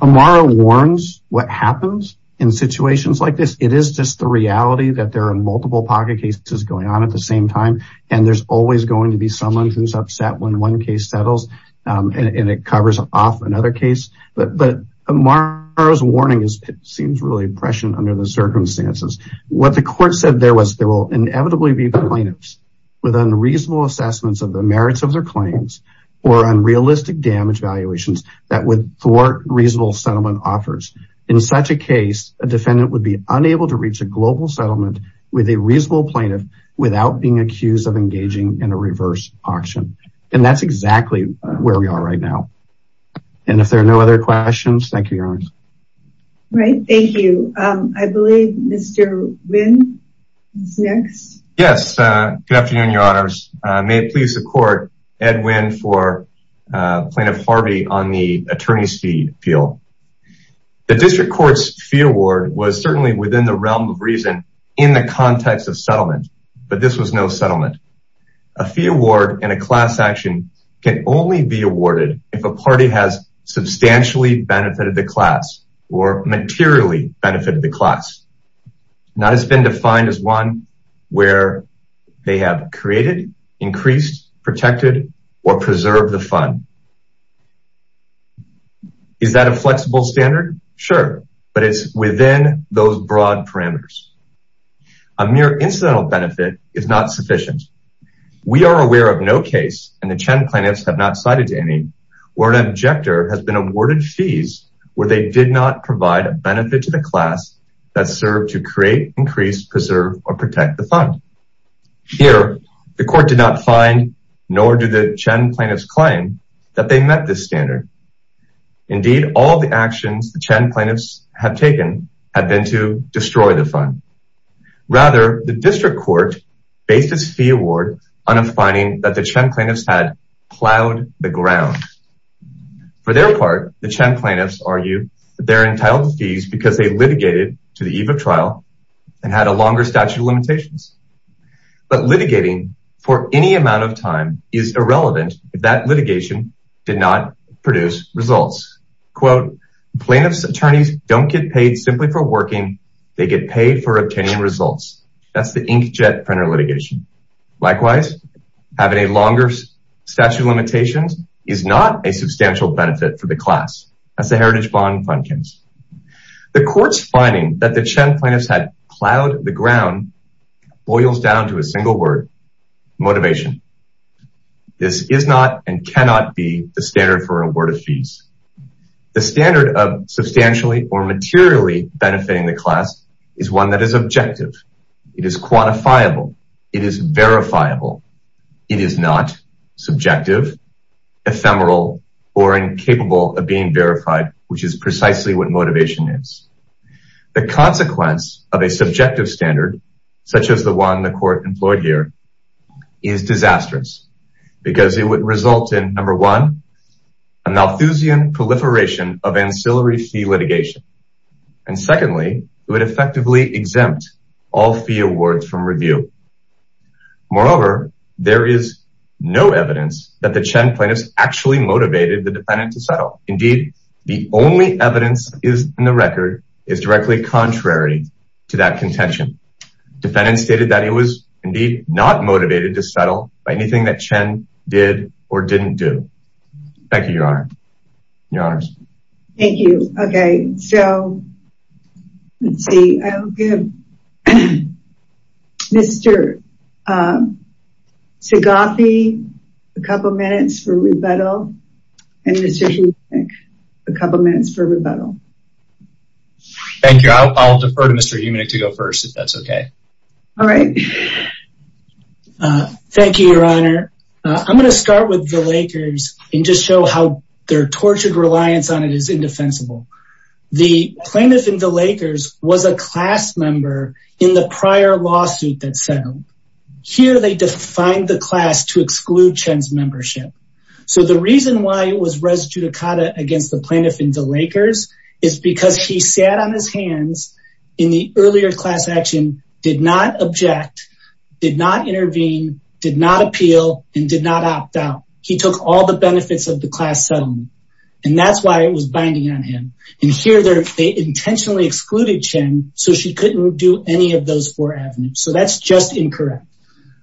Amara warns what happens in situations like this. It is just the reality that there are multiple pocket cases going on at the same time, and there's always going to be someone who's upset when one case settles, and it covers off another case, but Amara's warning seems really prescient under the circumstances. What the court said there was there will inevitably be plaintiffs with unreasonable assessments of the merits of their claims or unrealistic damage valuations that would thwart reasonable settlement offers. In such a case, a defendant would be unable to reach a global settlement with a reasonable plaintiff without being accused of engaging in a reverse auction, and that's exactly where we are right now. And if there are no other questions, thank you, Your Honors. Right, thank you. I believe Mr. Wynn is next. Yes, good afternoon, Your Honors. May it please the court, Ed Wynn for Plaintiff Harvey on the attorney's fee appeal. The district court's fee award was certainly within the realm of reason in the context of settlement, but this was no settlement. A fee award and a class action can only be awarded if a party has substantially benefited the class or materially benefited the class, not as been defined as one where they have created, increased, protected, or preserved the fund. Is that a flexible standard? Sure, but it's within those broad parameters. A mere incidental benefit is not sufficient. We are aware of no case, and the Chen plaintiffs have not cited any, where an objector has been awarded fees where they did not provide a benefit to the class that served to create, increase, preserve, or protect the fund. Here, the court did not find, nor do the Chen plaintiffs claim, that they met this standard. Indeed, all the actions the Chen plaintiffs have taken have been to destroy the fund. Rather, the district court based its fee award on a finding that the Chen plaintiffs had plowed the ground. For their part, the Chen plaintiffs argue that they're entitled to fees because they litigated to the eve of trial and had a longer statute of limitations. But litigating for any amount of time is irrelevant if that litigation did not produce results. Quote, plaintiffs' attorneys don't get paid simply for working, they get paid for obtaining results. That's the inkjet printer Likewise, having a longer statute of limitations is not a substantial benefit for the class. That's the heritage bond fund case. The court's finding that the Chen plaintiffs had plowed the ground boils down to a single word, motivation. This is not and cannot be the standard for award of fees. The standard of substantially or materially benefiting the class is one that is objective. It is quantifiable. It is verifiable. It is not subjective, ephemeral, or incapable of being verified, which is precisely what motivation is. The consequence of a subjective standard, such as the one the court employed here, is disastrous because it would result in, number one, a Malthusian proliferation of all fee awards from review. Moreover, there is no evidence that the Chen plaintiffs actually motivated the defendant to settle. Indeed, the only evidence in the record is directly contrary to that contention. Defendants stated that he was indeed not motivated to settle by anything that Chen did or didn't do. Thank you, your honor. Your honors. Thank you. Okay, so let's see. Mr. Taghafi, a couple minutes for rebuttal. And Mr. Humanik, a couple minutes for rebuttal. Thank you. I'll defer to Mr. Humanik to go first, if that's okay. All right. Thank you, your honor. I'm going to start with the Lakers and just show how their tortured reliance on it is indefensible. The plaintiff in the Lakers was a class member in the prior lawsuit that settled. Here, they defined the class to exclude Chen's membership. So the reason why it was res judicata against the plaintiff in the Lakers is because he sat on his hands in the earlier class action, did not object, did not intervene, did not appeal, and did not opt out. He took all the benefits of the class settlement. And that's why it was binding on him. And here, they intentionally excluded Chen, so she couldn't do any of those four avenues. So that's just incorrect.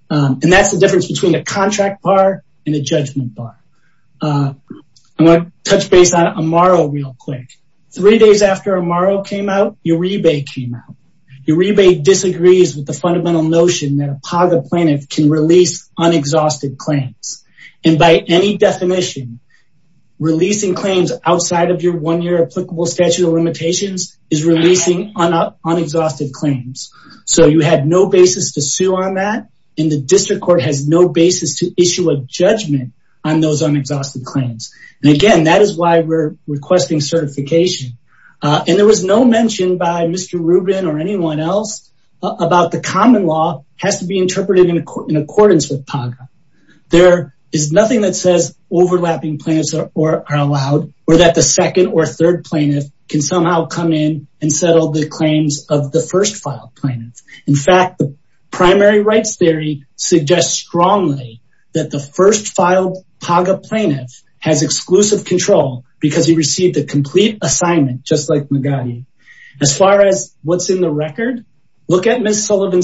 And that's the difference between a contract bar and a judgment bar. I want to touch base on Amaro real quick. Three days after Amaro came out, Uribe came out. Uribe disagrees with the fundamental notion that a positive plaintiff can release unexhausted claims. And by any definition, releasing claims outside of your one-year applicable statute of limitations is releasing unexhausted claims. So you had no basis to sue on that. And the district court has no basis to issue a judgment on those unexhausted claims. And again, that is why we're requesting certification. And there was no mention by There is nothing that says overlapping plaintiffs are allowed or that the second or third plaintiff can somehow come in and settle the claims of the first filed plaintiff. In fact, the primary rights theory suggests strongly that the first filed PAGA plaintiff has exclusive control because he received a complete assignment, just like Magadi. As far as what's in the record, look at Ms. in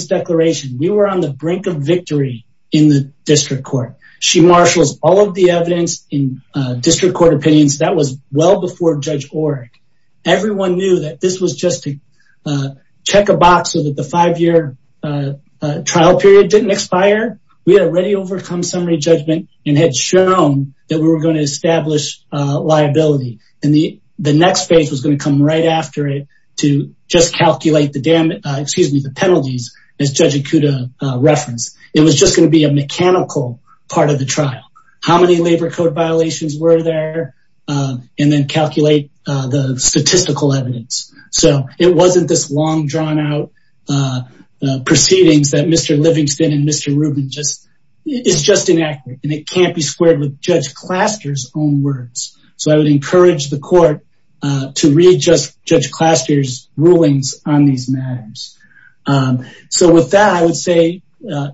the district court. She marshals all of the evidence in district court opinions. That was well before Judge Orrick. Everyone knew that this was just to check a box so that the five-year trial period didn't expire. We had already overcome summary judgment and had shown that we were going to establish liability. And the next phase was going to come right after it to just excuse me, the penalties as Judge Ikuda referenced. It was just going to be a mechanical part of the trial. How many labor code violations were there? And then calculate the statistical evidence. So it wasn't this long drawn out proceedings that Mr. Livingston and Mr. Rubin just, it's just inaccurate and it can't be squared with Judge Claster's own words. So I would encourage the court to readjust Judge Claster's rulings on these matters. So with that, I would say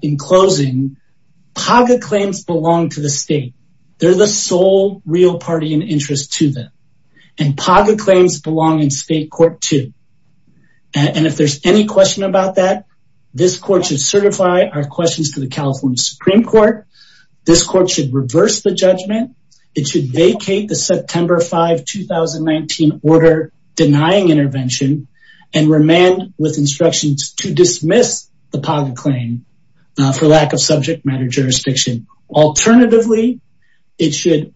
in closing, PAGA claims belong to the state. They're the sole real party in interest to them. And PAGA claims belong in state court too. And if there's any question about that, this court should certify our questions to the California Supreme Court. This court should reverse the judgment. It should vacate the September 5, 2019 order denying intervention and remand with instructions to dismiss the PAGA claim for lack of subject matter jurisdiction. Alternatively, it should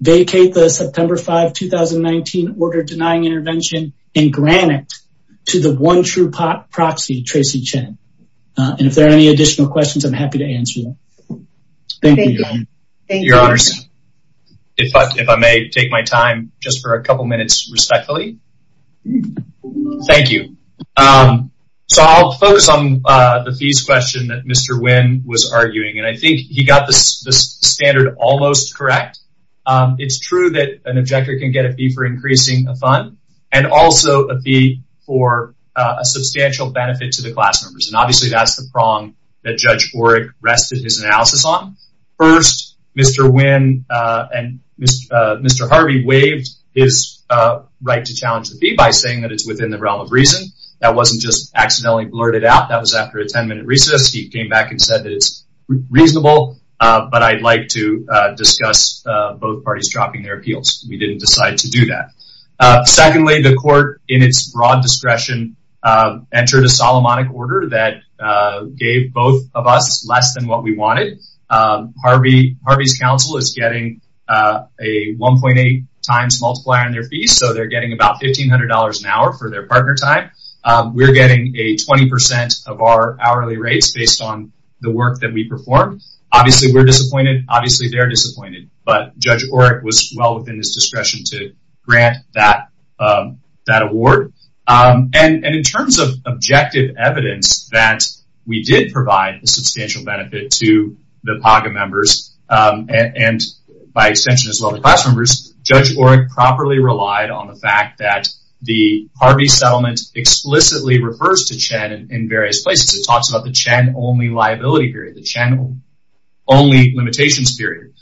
vacate the September 5, 2019 order denying intervention and grant it to the one true proxy, Tracy Chen. And if there are any additional questions, I'm happy to answer them. Thank you. Your honors, if I may take my time just for a couple minutes respectfully. Thank you. So I'll focus on the fees question that Mr. Wynn was arguing. And I think he got this standard almost correct. It's true that an objector can get a fee for increasing a fund and also a fee for a substantial benefit to the class members. And obviously, that's the prong that Judge Orrick rested his analysis on. First, Mr. Wynn and Mr. Harvey waived his right to challenge the fee by saying that it's within the realm of reason. That wasn't just accidentally blurted out. That was after a 10-minute recess. He came back and said that it's reasonable, but I'd like to discuss both parties dropping their appeals. We didn't decide to do that. Secondly, the court in its broad discretion entered a Solomonic order that gave both of us less than what we wanted. Harvey's counsel is getting a 1.8 times multiplier on their fees. So they're getting about $1,500 an hour for their partner time. We're getting a 20% of our hourly rates based on the work that we perform. Obviously, we're disappointed. Obviously, they're disappointed, but Judge Orrick was well within his discretion to grant that award. And in terms of objective evidence that we did provide a substantial benefit to the PAGA members and by extension, as well, the class members, Judge Orrick properly relied on the fact that the Harvey settlement explicitly refers to CHEN in various places. It talks about the CHEN-only limitations period.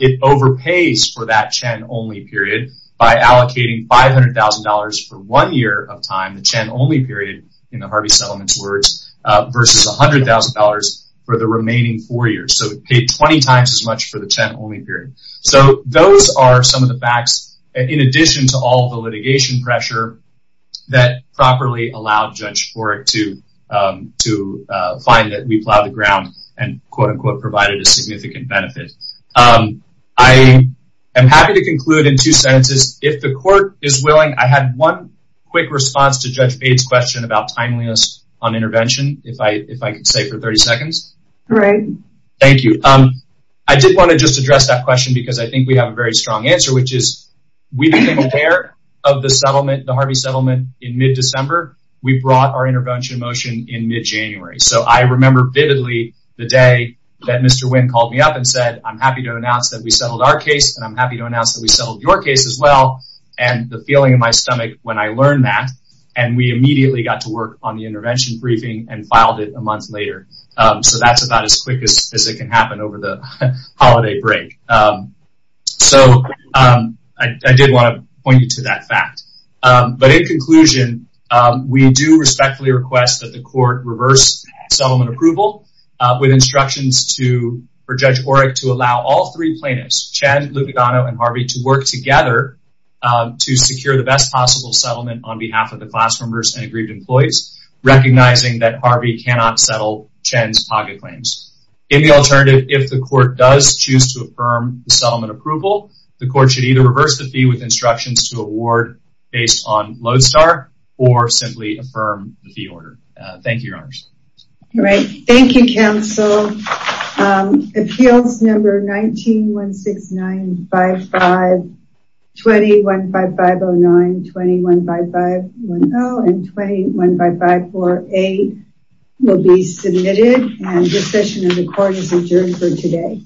It overpays for that CHEN-only period by allocating $500,000 for one year of time, the CHEN-only period in the Harvey settlement's words, versus $100,000 for the remaining four years. So it paid 20 times as much for the CHEN-only period. So those are some of the facts in addition to all the litigation pressure that properly allowed Judge Orrick to find that ground and quote, unquote, provided a significant benefit. I am happy to conclude in two sentences. If the court is willing, I had one quick response to Judge Bates' question about timeliness on intervention, if I could stay for 30 seconds. Great. Thank you. I did want to just address that question because I think we have a very strong answer, which is we became aware of the Harvey settlement in mid-December. We brought our intervention motion in mid-January. So I remember vividly the day that Mr. Wynn called me up and said, I'm happy to announce that we settled our case and I'm happy to announce that we settled your case as well. And the feeling in my stomach when I learned that, and we immediately got to work on the intervention briefing and filed it a month later. So that's about as quick as it can happen over the holiday break. So I did want to that fact. But in conclusion, we do respectfully request that the court reverse settlement approval with instructions for Judge Orrick to allow all three plaintiffs, Chen, Lupagano, and Harvey to work together to secure the best possible settlement on behalf of the class members and aggrieved employees, recognizing that Harvey cannot settle Chen's target claims. In the alternative, if the court does choose to affirm the settlement approval, the court should either the fee with instructions to award based on Lodestar or simply affirm the fee order. Thank you, Your Honors. All right. Thank you, counsel. Appeals number 19-169-55-20-15509, 21-55-10, and 21-55-48 will be submitted. And this session of the court is adjourned for today.